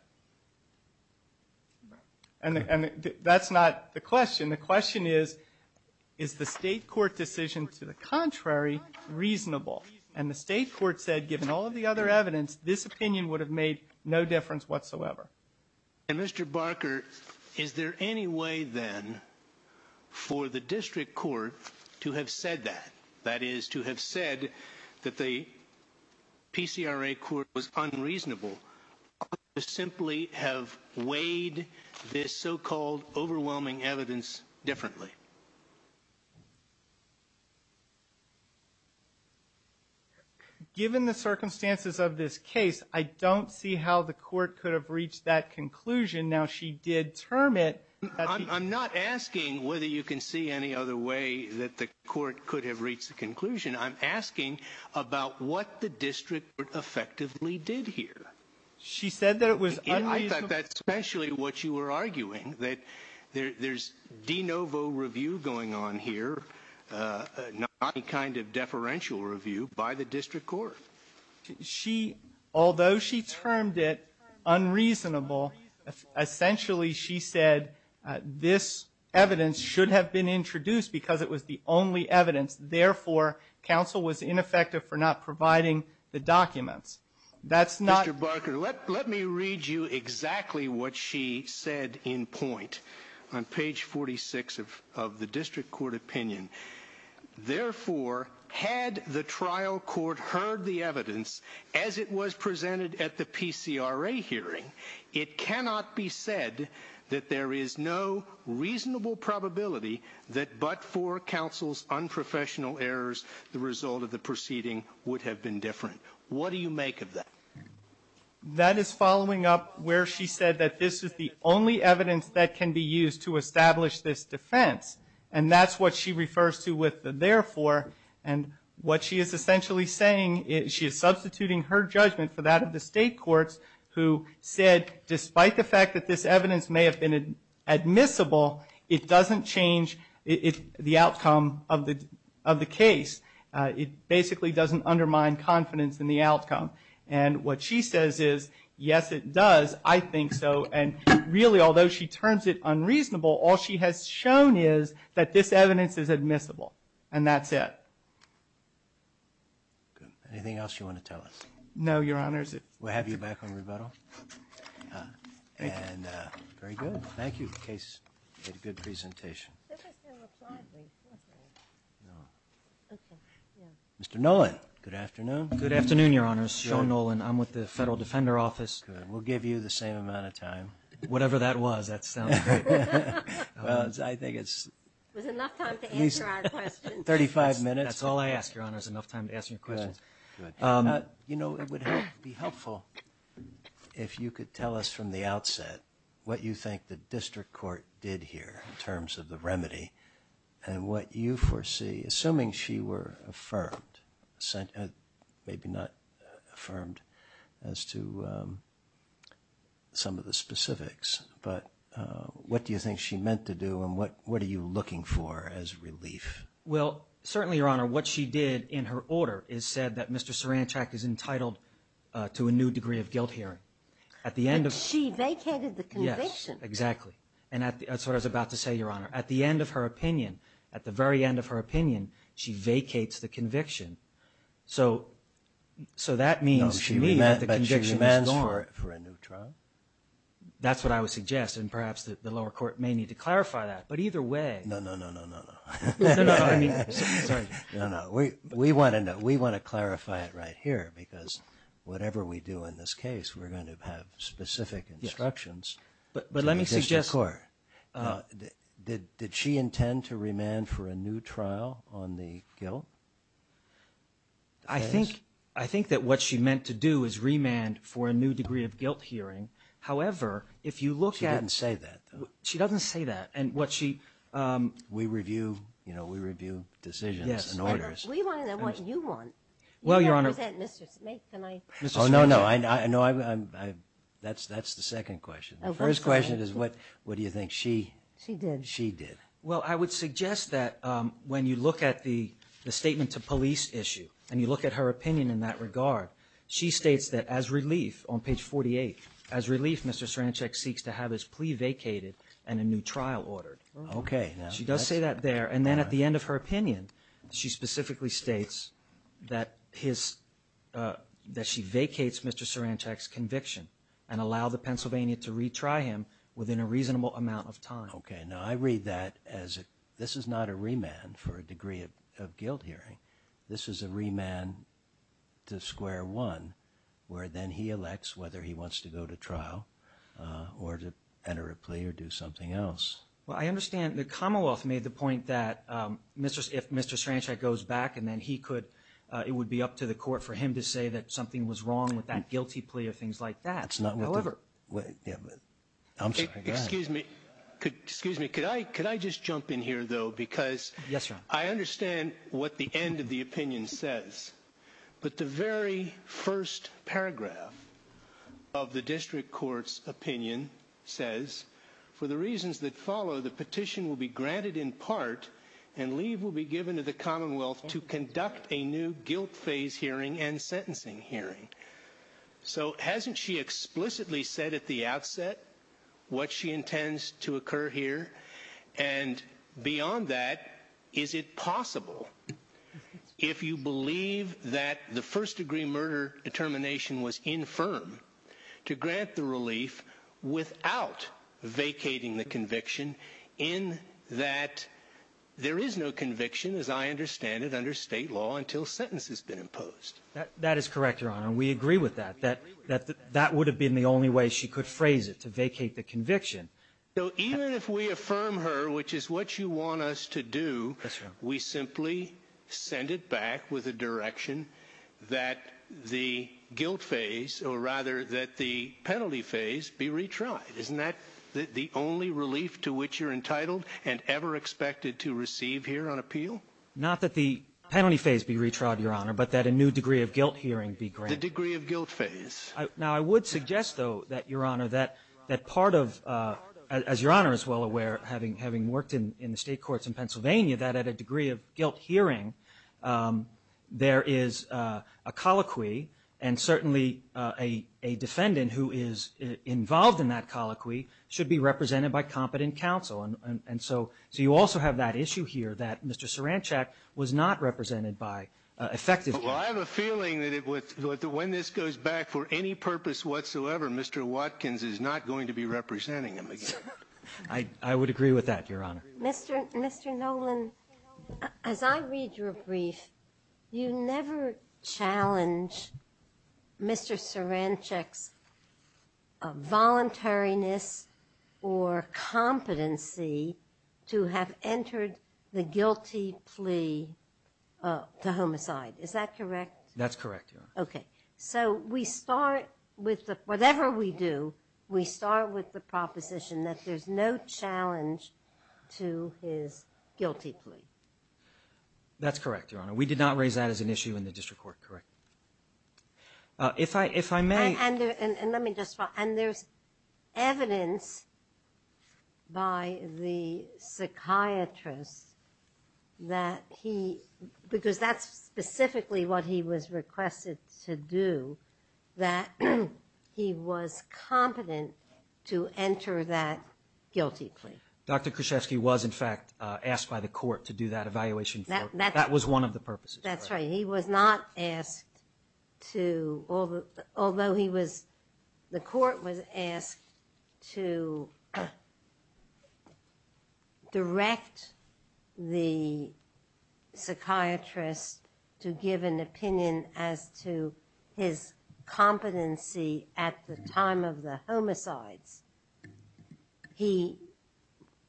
And that's not the question. And the question is, is the state court decision to the contrary reasonable? And the state court said given all of the other evidence, this opinion would have made no difference whatsoever. And, Mr. Barker, is there any way then for the district court to have said that, that is to have said that the PCRA court was unreasonable, or simply have weighed this so-called overwhelming evidence differently? Given the circumstances of this case, I don't see how the court could have reached that conclusion. Now, she did term it. I'm not asking whether you can see any other way that the court could have reached a conclusion. I'm asking about what the district effectively did here. She said that it was unreasonable. I thought that's especially what you were arguing, that there's de novo review going on here, not any kind of deferential review by the district court. Although she termed it unreasonable, essentially she said this evidence should have been introduced because it was the only evidence. Therefore, counsel was ineffective for not providing the documents. That's not... Mr. Barker, let me read you exactly what she said in point on page 46 of the district court opinion. Therefore, had the trial court heard the evidence as it was presented at the PCRA hearing, it cannot be said that there is no reasonable probability that but for counsel's unprofessional errors, the result of the proceeding would have been different. What do you make of that? That is following up where she said that this is the only evidence that can be used to establish this defense. And that's what she refers to with the therefore. What she is essentially saying is she is substituting her judgment for that of the state courts who said despite the fact that this evidence may have been admissible, it doesn't change the outcome of the case. It basically doesn't undermine confidence in the outcome. And what she says is, yes, it does. I think so. And really, although she terms it unreasonable, all she has shown is that this evidence is admissible. And that's it. Anything else you want to tell us? No, Your Honors. We'll have you back on rebuttal. Thank you. Very good. Thank you. A good presentation. Mr. Noland, good afternoon. Good afternoon, Your Honors. John Noland. I'm with the Federal Defender Office. Good. We'll give you the same amount of time. Whatever that was. I think it's enough time to answer our questions. Thirty-five minutes. That's all I asked, Your Honors, enough time to answer your questions. Good. You know, it would be helpful if you could tell us from the outset what you think the district court did here in terms of the remedy and what you foresee, assuming she were affirmed, maybe not affirmed as to some of the specifics, but what do you think she meant to do and what are you looking for as relief? Well, certainly, Your Honor, what she did in her order is said that Mr. Serenachak is entitled to a new degree of guilt hearing. But she vacated the conviction. Yes, exactly. And that's what I was about to say, Your Honor. At the end of her opinion, at the very end of her opinion, she vacates the conviction. So that means she remains for a new trial. That's what I would suggest, and perhaps the lower court may need to clarify that. But either way. No, no, no, no, no, no. No, no, we want to clarify it right here because whatever we do in this case, we're going to have specific instructions. But let me suggest, Your Honor, did she intend to remand for a new trial on the guilt? I think that what she meant to do is remand for a new degree of guilt hearing. However, if you look at... She didn't say that. She doesn't say that. And what she... We review, you know, we review decisions and orders. Yes. We want to know what you want. Well, Your Honor... You never said Mr. Serenachak. Oh, no, no. That's the second question. The first question is what do you think she did. Well, I would suggest that when you look at the statement to police issue and you look at her opinion in that regard, she states that as relief, on page 48, as relief, Mr. Serenachak seeks to have his plea vacated and a new trial ordered. Okay. She does say that there. And then at the end of her opinion, she specifically states that she vacates Mr. Serenachak's conviction and allowed the Pennsylvanian to retry him within a reasonable amount of time. Okay. Now, I read that as this is not a remand for a degree of guilt hearing. This is a remand to square one where then he elects whether he wants to go to trial or to enter a plea or do something else. Well, I understand that Karmeloff made the point that if Mr. Serenachak goes back and then he could, it would be up to the court for him to say that something was wrong with that guilty plea or things like that. However... Excuse me. Excuse me. Could I just jump in here, though? Because I understand what the end of the opinion says. But the very first paragraph of the district court's opinion says, for the reasons that follow, the petition will be granted in part and leave will be given to the Commonwealth to conduct a new guilt phase hearing and sentencing hearing. So hasn't she explicitly said at the outset what she intends to occur here? And beyond that, is it possible, if you believe that the first-degree murder determination was infirm, to grant the relief without vacating the conviction in that there is no conviction, as I understand it, under state law until sentence has been imposed? That is correct, Your Honor. We agree with that, that that would have been the only way she could phrase it, to vacate the conviction. So even if we affirm her, which is what you want us to do, we simply send it back with a direction that the guilt phase, or rather that the penalty phase, be retried. Isn't that the only relief to which you're entitled and ever expected to receive here on appeal? Not that the penalty phase be retried, Your Honor, but that a new degree of guilt hearing be granted. The degree of guilt phase. Now, I would suggest, though, that, Your Honor, that part of, as Your Honor is well aware, having worked in the state courts in Pennsylvania, that at a degree of guilt hearing, there is a colloquy, and certainly a defendant who is involved in that colloquy should be represented by competent counsel. And so you also have that issue here that Mr. Cerenchik was not represented by, effectively. Well, I have a feeling that when this goes back for any purpose whatsoever, Mr. Watkins is not going to be representing him again. I would agree with that, Your Honor. Mr. Nolan, as I read your brief, you never challenge Mr. Cerenchik's voluntariness or competency to have entered the guilty plea to homicide. Is that correct? That's correct, Your Honor. Okay. So we start with the, whatever we do, we start with the proposition that there's no challenge to his guilty plea. That's correct, Your Honor. We did not raise that as an issue in the district court, correct? If I may. And there's evidence by the psychiatrist that he, because that's specifically what he was requested to do, that he was competent to enter that guilty plea. Dr. Kruszewski was, in fact, asked by the court to do that evaluation. That was one of the purposes. That's right. He was not asked to, although he was, the court was asked to direct the psychiatrist to give an opinion as to his competency at the time of the homicide. He,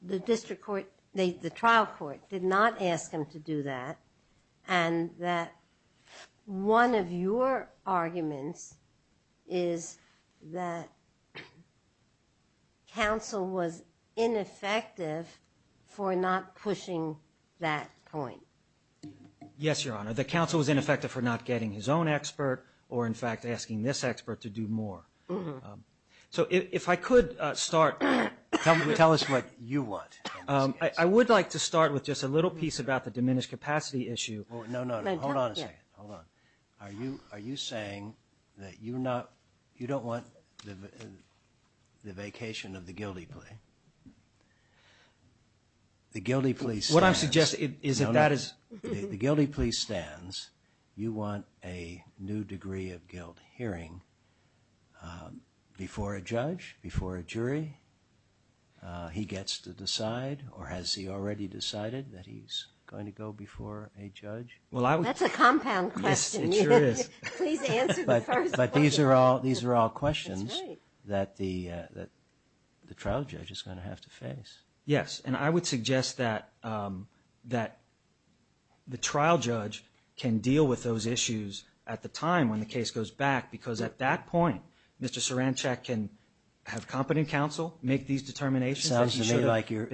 the district court, the trial court did not ask him to do that, and that one of your arguments is that counsel was ineffective for not pushing that point. Yes, Your Honor. The counsel was ineffective for not getting his own expert or, in fact, asking this expert to do more. So if I could start, tell us what you want. I would like to start with just a little piece about the diminished capacity issue. No, no, no. Hold on a second. Hold on. Are you saying that you don't want the vacation of the guilty plea? The guilty plea stands. The guilty plea stands. You want a new degree of guilt hearing before a judge, before a jury. He gets to decide, or has he already decided that he's going to go before a judge? That's a compound question. It sure is. But these are all questions that the trial judge is going to have to face. Yes. And I would suggest that the trial judge can deal with those issues at the time when the case goes back, because at that point, Mr. Saranchak can have competent counsel make these determinations. Sounds to me like you're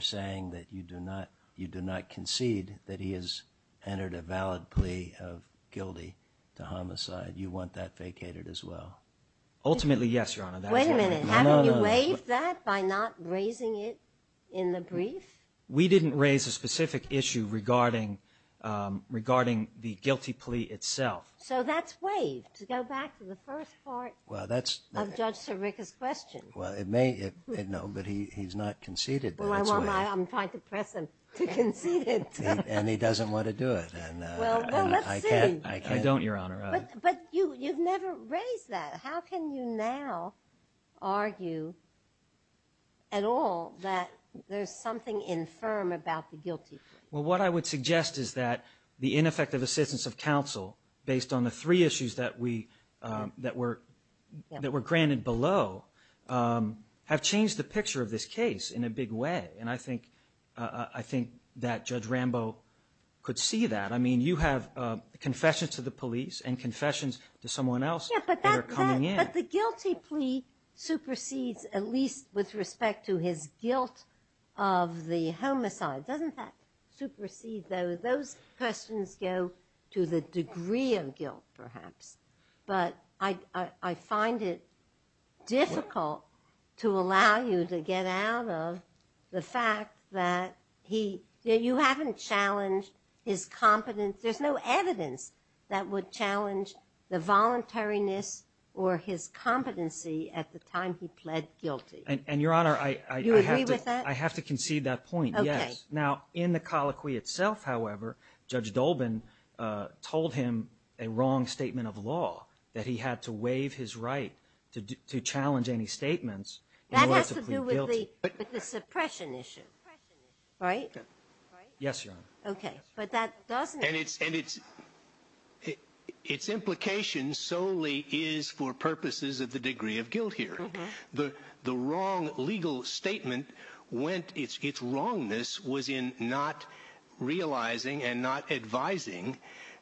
saying that you do not concede that he has entered a valid plea of guilty to homicide. You want that vacated as well. Ultimately, yes, Your Honor. Wait a minute. Have you raised that by not raising it in the brief? We didn't raise a specific issue regarding the guilty plea itself. So that's waived to go back to the first part of Judge Sirica's question. Well, it may have. No, but he's not conceded. I'm trying to press him to concede it. And he doesn't want to do it. Well, let's see. I can't. I don't, Your Honor. But you've never raised that. How can you now argue at all that there's something infirm about the guilty plea? Well, what I would suggest is that the ineffective assistance of counsel, based on the three issues that were granted below, have changed the picture of this case in a big way. And I think that Judge Rambo could see that. I mean, you have confessions to the police and confessions to someone else. But the guilty plea supersedes at least with respect to his guilt of the homicide. Doesn't that supersede those? Those questions go to the degree of guilt, perhaps. But I find it difficult to allow you to get out of the fact that you haven't challenged his competence. There's no evidence that would challenge the voluntariness or his competency at the time he pled guilty. And, Your Honor, I have to concede that point, yes. Okay. Now, in the colloquy itself, however, Judge Dolben told him a wrong statement of law, that he had to waive his right to challenge any statements. That has to do with the suppression issue, right? Yes, Your Honor. Okay. And its implication solely is for purposes of the degree of guilt here. The wrong legal statement, its wrongness was in not realizing and not advising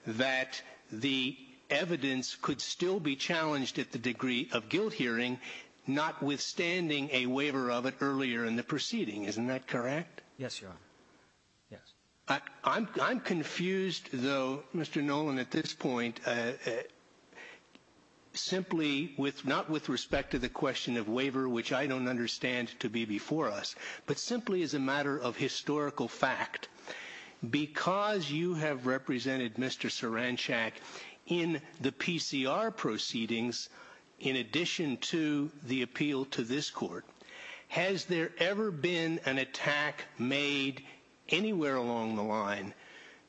that the evidence could still be challenged at the degree of guilt hearing, notwithstanding a waiver of it earlier in the proceeding. Isn't that correct? Yes, Your Honor. Yes. I'm confused, though, Mr. Noland, at this point, simply not with respect to the question of waiver, which I don't understand to be before us, but simply as a matter of historical fact. Because you have represented Mr. Saranchak in the PCR proceedings, in addition to the appeal to this court, has there ever been an attack made anywhere along the line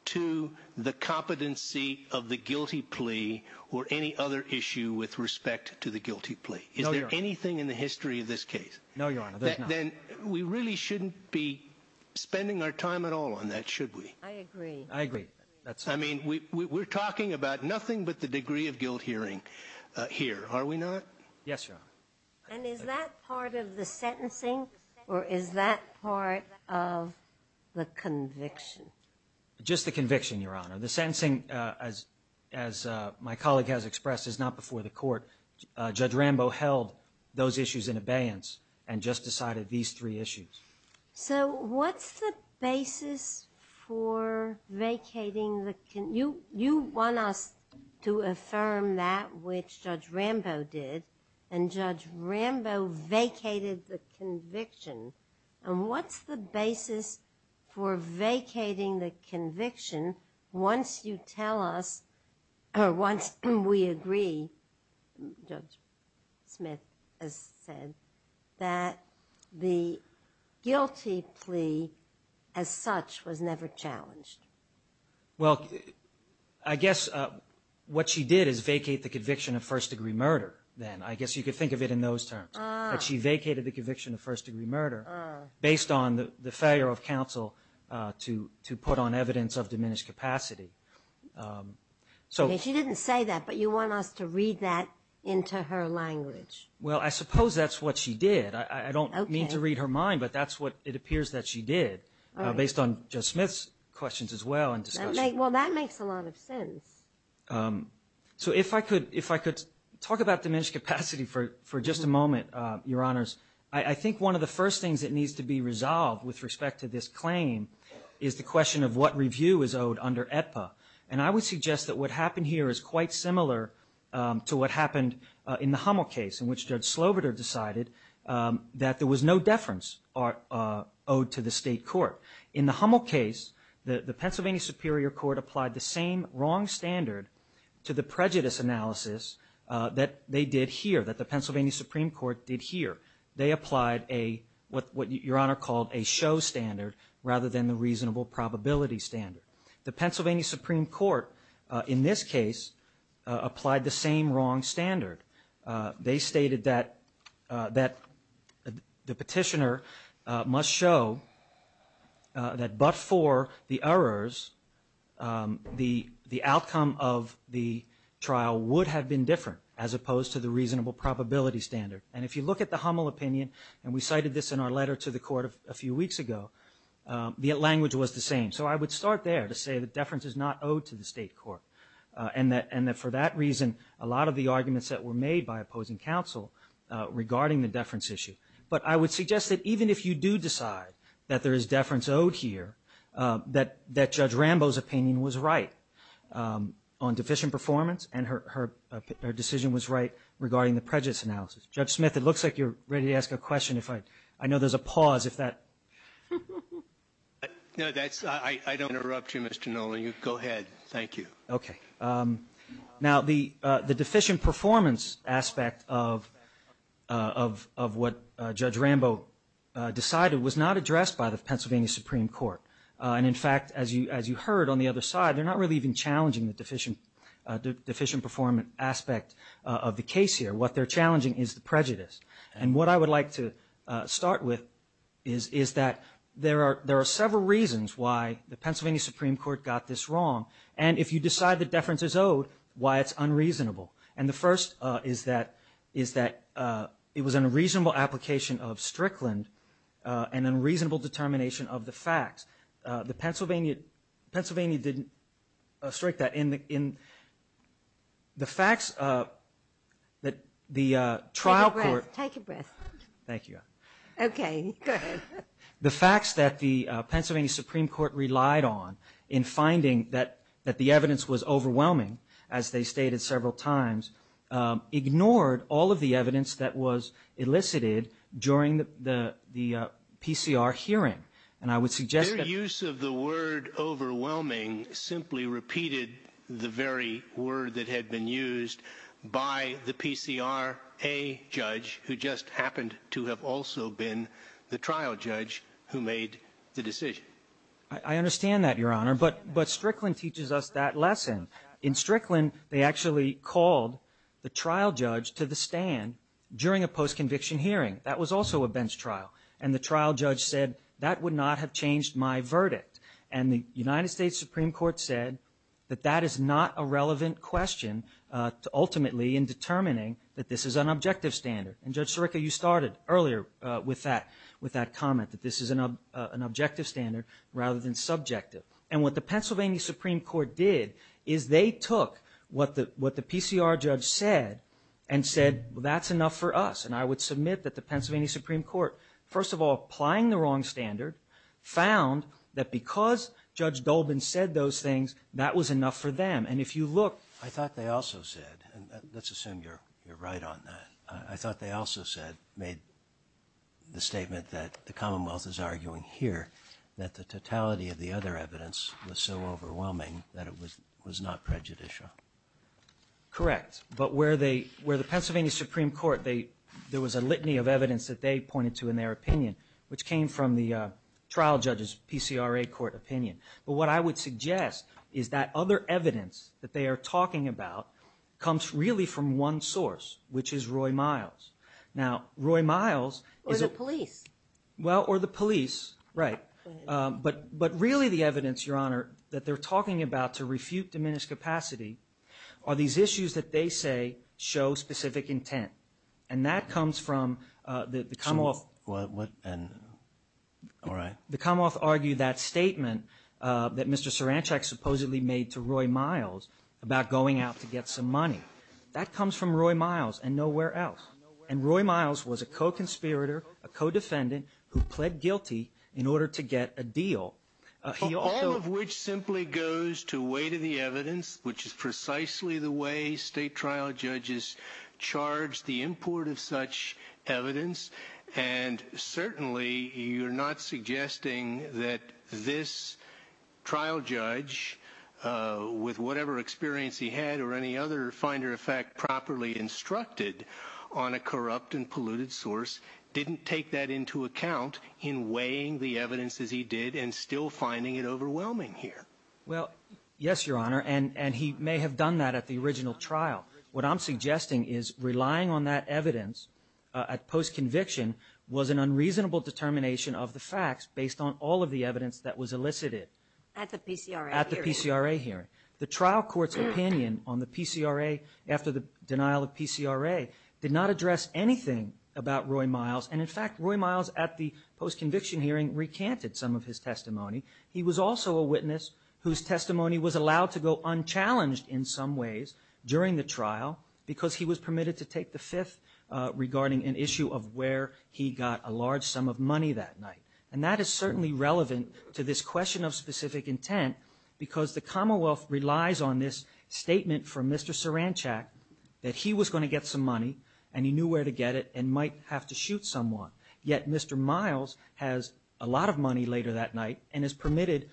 to the competency of the guilty plea or any other issue with respect to the guilty plea? No, Your Honor. Is there anything in the history of this case? No, Your Honor. Then we really shouldn't be spending our time at all on that, should we? I agree. I agree. I mean, we're talking about nothing but the degree of guilt hearing here, are we not? Yes, Your Honor. And is that part of the sentencing or is that part of the conviction? Just the conviction, Your Honor. The sentencing, as my colleague has expressed, is not before the court. Judge Rambo held those issues in abeyance and just decided these three issues. So what's the basis for vacating the – you want us to affirm that, which Judge Rambo did, and Judge Rambo vacated the conviction, and what's the basis for vacating the conviction once you tell us or once we agree, Judge Smith has said, that the guilty plea as such was never challenged? Well, I guess what she did is vacate the conviction of first-degree murder then. I guess you could think of it in those terms. But she vacated the conviction of first-degree murder based on the failure of counsel to put on evidence of diminished capacity. She didn't say that, but you want us to read that into her language. Well, I suppose that's what she did. I don't mean to read her mind, but that's what it appears that she did. Based on Judge Smith's questions as well. Well, that makes a lot of sense. So if I could talk about diminished capacity for just a moment, Your Honors. I think one of the first things that needs to be resolved with respect to this claim is the question of what review is owed under AETPA. And I would suggest that what happened here is quite similar to what happened in the Hummel case, in which Judge Slobiter decided that there was no deference owed to the state court. In the Hummel case, the Pennsylvania Superior Court applied the same wrong standard to the prejudice analysis that they did here, that the Pennsylvania Supreme Court did here. They applied what Your Honor called a show standard rather than the reasonable probability standard. The Pennsylvania Supreme Court in this case applied the same wrong standard. They stated that the petitioner must show that but for the errors, the outcome of the trial would have been different, as opposed to the reasonable probability standard. And if you look at the Hummel opinion, and we cited this in our letter to the court a few weeks ago, the language was the same. So I would start there to say that deference is not owed to the state court, and that for that reason, a lot of the arguments that were made by opposing counsel regarding the deference issue. But I would suggest that even if you do decide that there is deference owed here, that Judge Rambo's opinion was right on deficient performance, and her decision was right regarding the prejudice analysis. Judge Smith, it looks like you're ready to ask a question. I know there's a pause. No, I don't want to interrupt you, Mr. Nolan. Go ahead. Thank you. Okay. Now, the deficient performance aspect of what Judge Rambo decided was not addressed by the Pennsylvania Supreme Court. And, in fact, as you heard on the other side, they're not really even challenging the deficient performance aspect of the case here. What they're challenging is the prejudice. And what I would like to start with is that there are several reasons why the Pennsylvania Supreme Court got this wrong. And if you decide that deference is owed, why it's unreasonable. And the first is that it was an unreasonable application of Strickland, an unreasonable determination of the facts. Pennsylvania didn't strike that. In the facts that the trial court. Take a breath. Thank you. Okay. Go ahead. The facts that the Pennsylvania Supreme Court relied on in finding that the evidence was overwhelming, as they stated several times, ignored all of the evidence that was elicited during the PCR hearing. Their use of the word overwhelming simply repeated the very word that had been used by the PCRA judge, who just happened to have also been the trial judge who made the decision. I understand that, Your Honor. But Strickland teaches us that lesson. In Strickland, they actually called the trial judge to the stand during a post-conviction hearing. That was also a bench trial. And the trial judge said, that would not have changed my verdict. And the United States Supreme Court said that that is not a relevant question ultimately in determining that this is an objective standard. And, Judge Sirica, you started earlier with that comment, that this is an objective standard rather than subjective. And what the Pennsylvania Supreme Court did is they took what the PCR judge said and said, well, that's enough for us. And I would submit that the Pennsylvania Supreme Court, first of all, applying the wrong standard, found that because Judge Dolben said those things, that was enough for them. And if you look, I thought they also said, and let's assume you're right on that, I thought they also said, made the statement that the Commonwealth is arguing here, that the totality of the other evidence was so overwhelming that it was not prejudicial. Correct. But where the Pennsylvania Supreme Court, there was a litany of evidence that they pointed to in their opinion, which came from the trial judge's PCRA court opinion. But what I would suggest is that other evidence that they are talking about comes really from one source, which is Roy Miles. Now, Roy Miles… Or the police. Well, or the police, right. But really the evidence, Your Honor, that they're talking about to refute diminished capacity are these issues that they say show specific intent. And that comes from the Commonwealth. The Commonwealth argued that statement that Mr. Saranchak supposedly made to Roy Miles about going out to get some money. That comes from Roy Miles and nowhere else. And Roy Miles was a co-conspirator, a co-defendant who pled guilty in order to get a deal. All of which simply goes to weight of the evidence, which is precisely the way state trial judges charge the import of such evidence. And certainly you're not suggesting that this trial judge, with whatever experience he had or any other finder effect properly instructed on a corrupt and polluted source, didn't take that into account in weighing the evidence as he did and still finding it overwhelming here. Well, yes, Your Honor. And he may have done that at the original trial. What I'm suggesting is relying on that evidence at post-conviction was an unreasonable determination of the facts based on all of the evidence that was elicited. At the PCRA hearing. At the PCRA hearing. The trial court's opinion on the PCRA after the denial of PCRA did not address anything about Roy Miles. And in fact, Roy Miles at the post-conviction hearing recanted some of his testimony. He was also a witness whose testimony was allowed to go unchallenged in some ways during the trial because he was permitted to take the fifth regarding an issue of where he got a large sum of money that night. And that is certainly relevant to this question of specific intent because the Commonwealth relies on this statement from Mr. Saranchak that he was going to get some money and he knew where to get it and might have to shoot someone. Yet Mr. Miles has a lot of money later that night and is permitted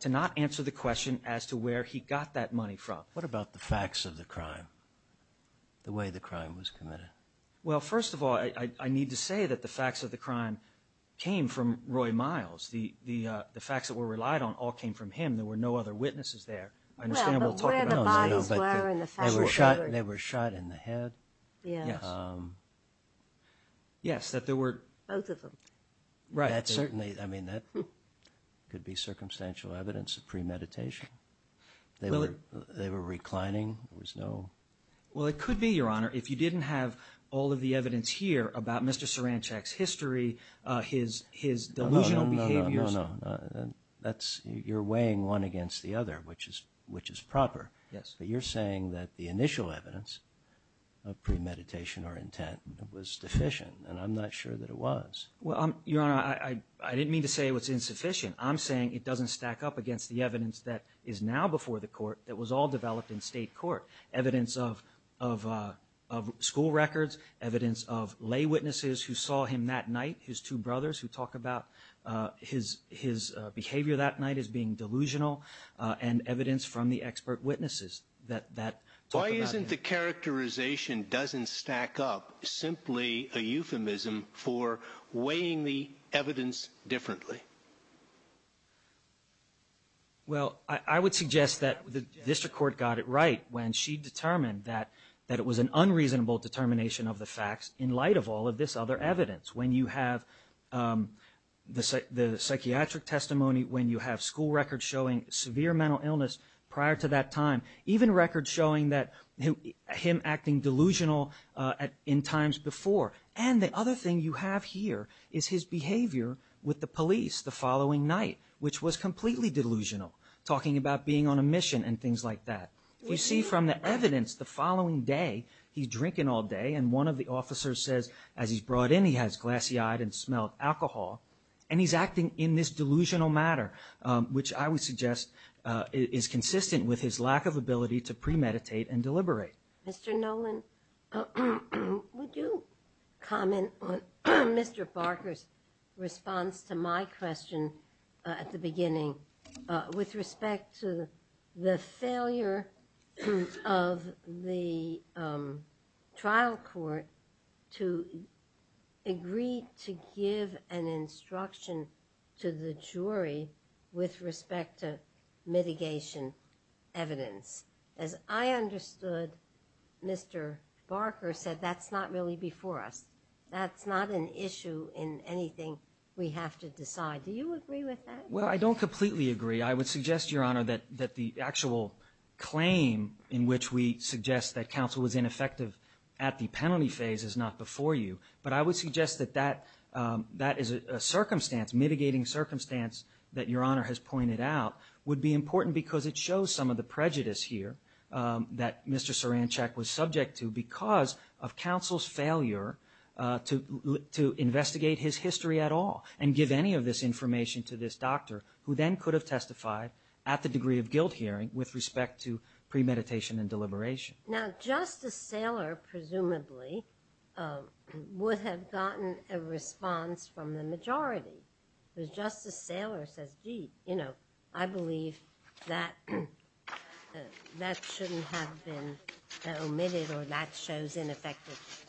to not answer the question as to where he got that money from. What about the facts of the crime? The way the crime was committed? Well, first of all, I need to say that the facts of the crime came from Roy Miles. The facts that were relied on all came from him. There were no other witnesses there. I understand what you're talking about. But where the bodies were and the facts were. They were shot in the head. Yes. Yes. That there were. Right. Certainly. I mean that could be circumstantial evidence of premeditation. They were reclining. There was no. Well, it could be, Your Honor. If you didn't have all of the evidence here about Mr. Saranchak's history, his delusional behaviors. No, no, no. You're weighing one against the other which is proper. Yes. But you're saying that the initial evidence of premeditation or intent was deficient. And I'm not sure that it was. Well, Your Honor, I didn't mean to say it was insufficient. I'm saying it doesn't stack up against the evidence that is now before the court. It was all developed in state court. Evidence of school records, evidence of lay witnesses who saw him that night. His two brothers who talk about his behavior that night as being delusional. And evidence from the expert witnesses. Why isn't the characterization doesn't stack up simply a euphemism for weighing the evidence differently? Well, I would suggest that the district court got it right when she determined that it was an unreasonable determination of the facts in light of all of this other evidence. When you have the psychiatric testimony, when you have school records showing severe mental illness prior to that time, even records showing him acting delusional in times before. And the other thing you have here is his behavior with the police the following night, which was completely delusional, talking about being on a mission and things like that. You see from the evidence the following day, he's drinking all day. And one of the officers says as he's brought in he has glassy eyes and smells alcohol. And he's acting in this delusional manner, which I would suggest is consistent with his lack of ability to premeditate and deliberate. Mr. Noland, would you comment on Mr. Barker's response to my question at the beginning with respect to the failure of the trial court to agree to give an instruction to the jury with respect to mitigation evidence? As I understood, Mr. Barker said that's not really before us. That's not an issue in anything we have to decide. Do you agree with that? Well, I don't completely agree. I would suggest, Your Honor, that the actual claim in which we suggest that counsel was ineffective at the penalty phase is not before you. But I would suggest that that is a mitigating circumstance that Your Honor has pointed out would be important because it shows some of the prejudice here that Mr. Saranchek was subject to because of counsel's failure to investigate his history at all and give any of this information to this doctor, who then could have testified at the degree of guilt hearing with respect to premeditation and deliberation. Now, Justice Thaler, presumably, would have gotten a response from the majority. Justice Thaler says, gee, I believe that shouldn't have been omitted or that shows ineffectiveness.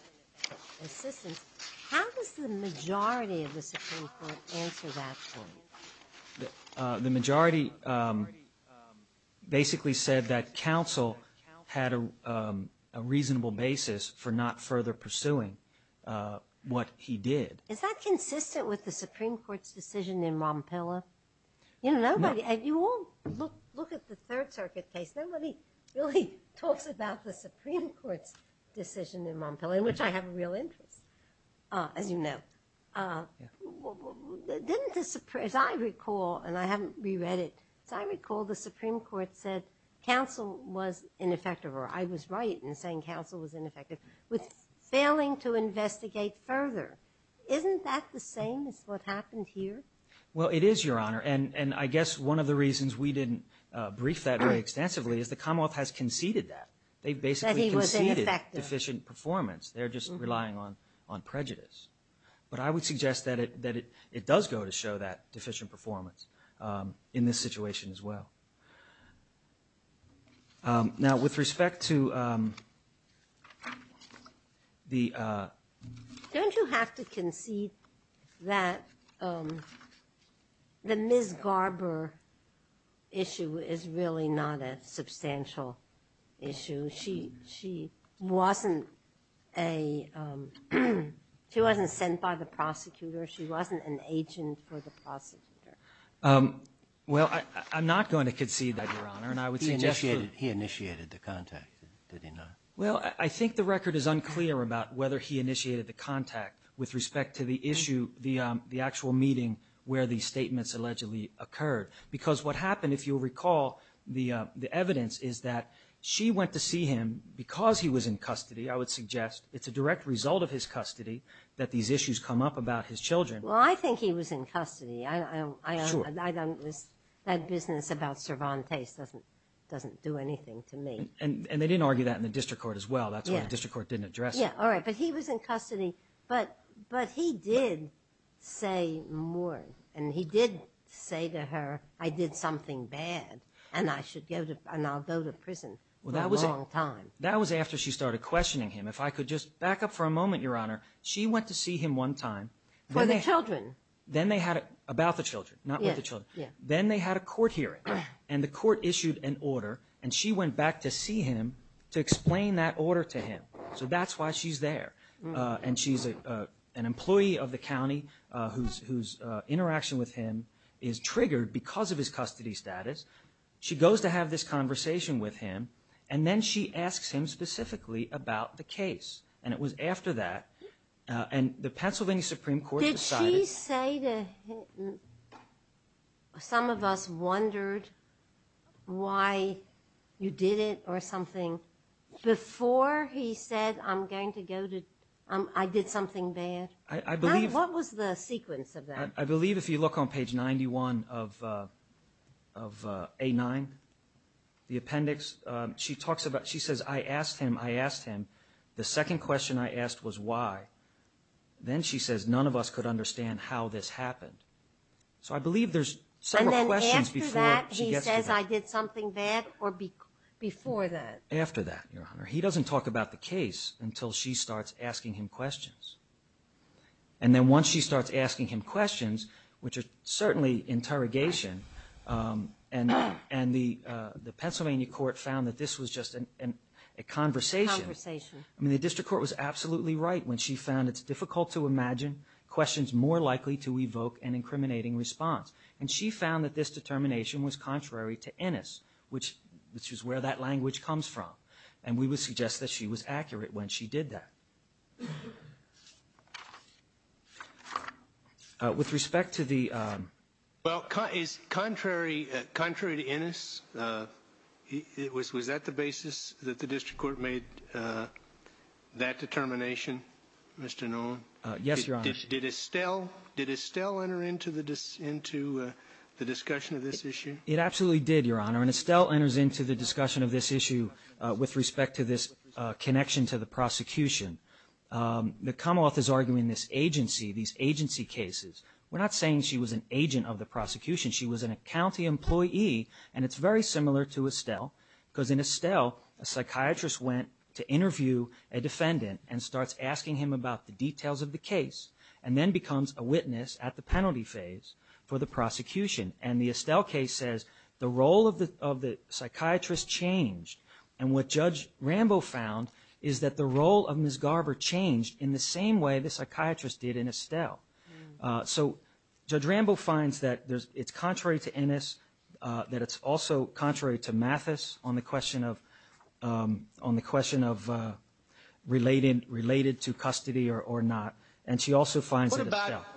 How does the majority of the Supreme Court answer that point? The majority basically said that counsel had a reasonable basis for not further pursuing what he did. Is that consistent with the Supreme Court's decision in Montpelier? You all look at the Third Circuit case. Nobody really talks about the Supreme Court's decision in Montpelier, which I have a real interest in, as you know. As I recall, and I haven't reread it, as I recall, the Supreme Court said counsel was ineffective, or I was right in saying counsel was ineffective, with failing to investigate further. Isn't that the same as what happened here? Well, it is, Your Honor, and I guess one of the reasons we didn't brief that very extensively is the Commonwealth has conceded that. They basically conceded deficient performance. They're just relying on prejudice. But I would suggest that it does go to show that deficient performance in this situation as well. Now, with respect to the… Don't you have to concede that the Ms. Garber issue is really not a substantial issue? She wasn't sent by the prosecutor. She wasn't an agent for the prosecutor. Well, I'm not going to concede that, Your Honor. He initiated the contact, didn't he, Your Honor? Well, I think the record is unclear about whether he initiated the contact with respect to the issue, the actual meeting where these statements allegedly occurred. Because what happened, if you'll recall, the evidence is that she went to see him because he was in custody. I would suggest it's a direct result of his custody that these issues come up about his children. Well, I think he was in custody. That business about Cervantes doesn't do anything to me. And they didn't argue that in the district court as well. That's why the district court didn't address it. All right, but he was in custody. But he did say more, and he did say to her, I did something bad, and I'll go to prison for a long time. That was after she started questioning him. If I could just back up for a moment, Your Honor. She went to see him one time. For the children. About the children, not with the children. Then they had a court hearing, and the court issued an order, and she went back to see him to explain that order to him. So that's why she's there. And she's an employee of the county whose interaction with him is triggered because of his custody status. She goes to have this conversation with him, and then she asks him specifically about the case. And it was after that, and the Pennsylvania Supreme Court decided – Did she say that some of us wondered why you did it or something before he said, I'm going to go to – I did something bad? I believe – What was the sequence of that? I believe if you look on page 91 of A9, the appendix, she talks about – she says, I asked him, I asked him. The second question I asked was why. Then she says, none of us could understand how this happened. So I believe there's several questions before she gets to that. And then after that, he says, I did something bad or before that? After that, Your Honor. He doesn't talk about the case until she starts asking him questions. And then once she starts asking him questions, which is certainly interrogation, and the Pennsylvania court found that this was just a conversation. I mean, the district court was absolutely right when she found it's difficult to imagine questions more likely to evoke an incriminating response. And she found that this determination was contrary to Ennis, which is where that language comes from. And we would suggest that she was accurate when she did that. With respect to the – So it's contrary to Ennis? Was that the basis that the district court made that determination, Mr. Noland? Yes, Your Honor. Did Estelle enter into the discussion of this issue? It absolutely did, Your Honor, and Estelle enters into the discussion of this issue with respect to this connection to the prosecution. The Commonwealth is arguing this agency, these agency cases. We're not saying she was an agent of the prosecution. She was a county employee, and it's very similar to Estelle because in Estelle, a psychiatrist went to interview a defendant and starts asking him about the details of the case and then becomes a witness at the penalty phase for the prosecution. And the Estelle case says the role of the psychiatrist changed. And what Judge Rambo found is that the role of Ms. Garber changed in the same way the psychiatrist did in Estelle. So Judge Rambo finds that it's contrary to Ennis, that it's also contrary to Mathis on the question of related to custody or not, and she also finds in Estelle. Thank you, Your Honor.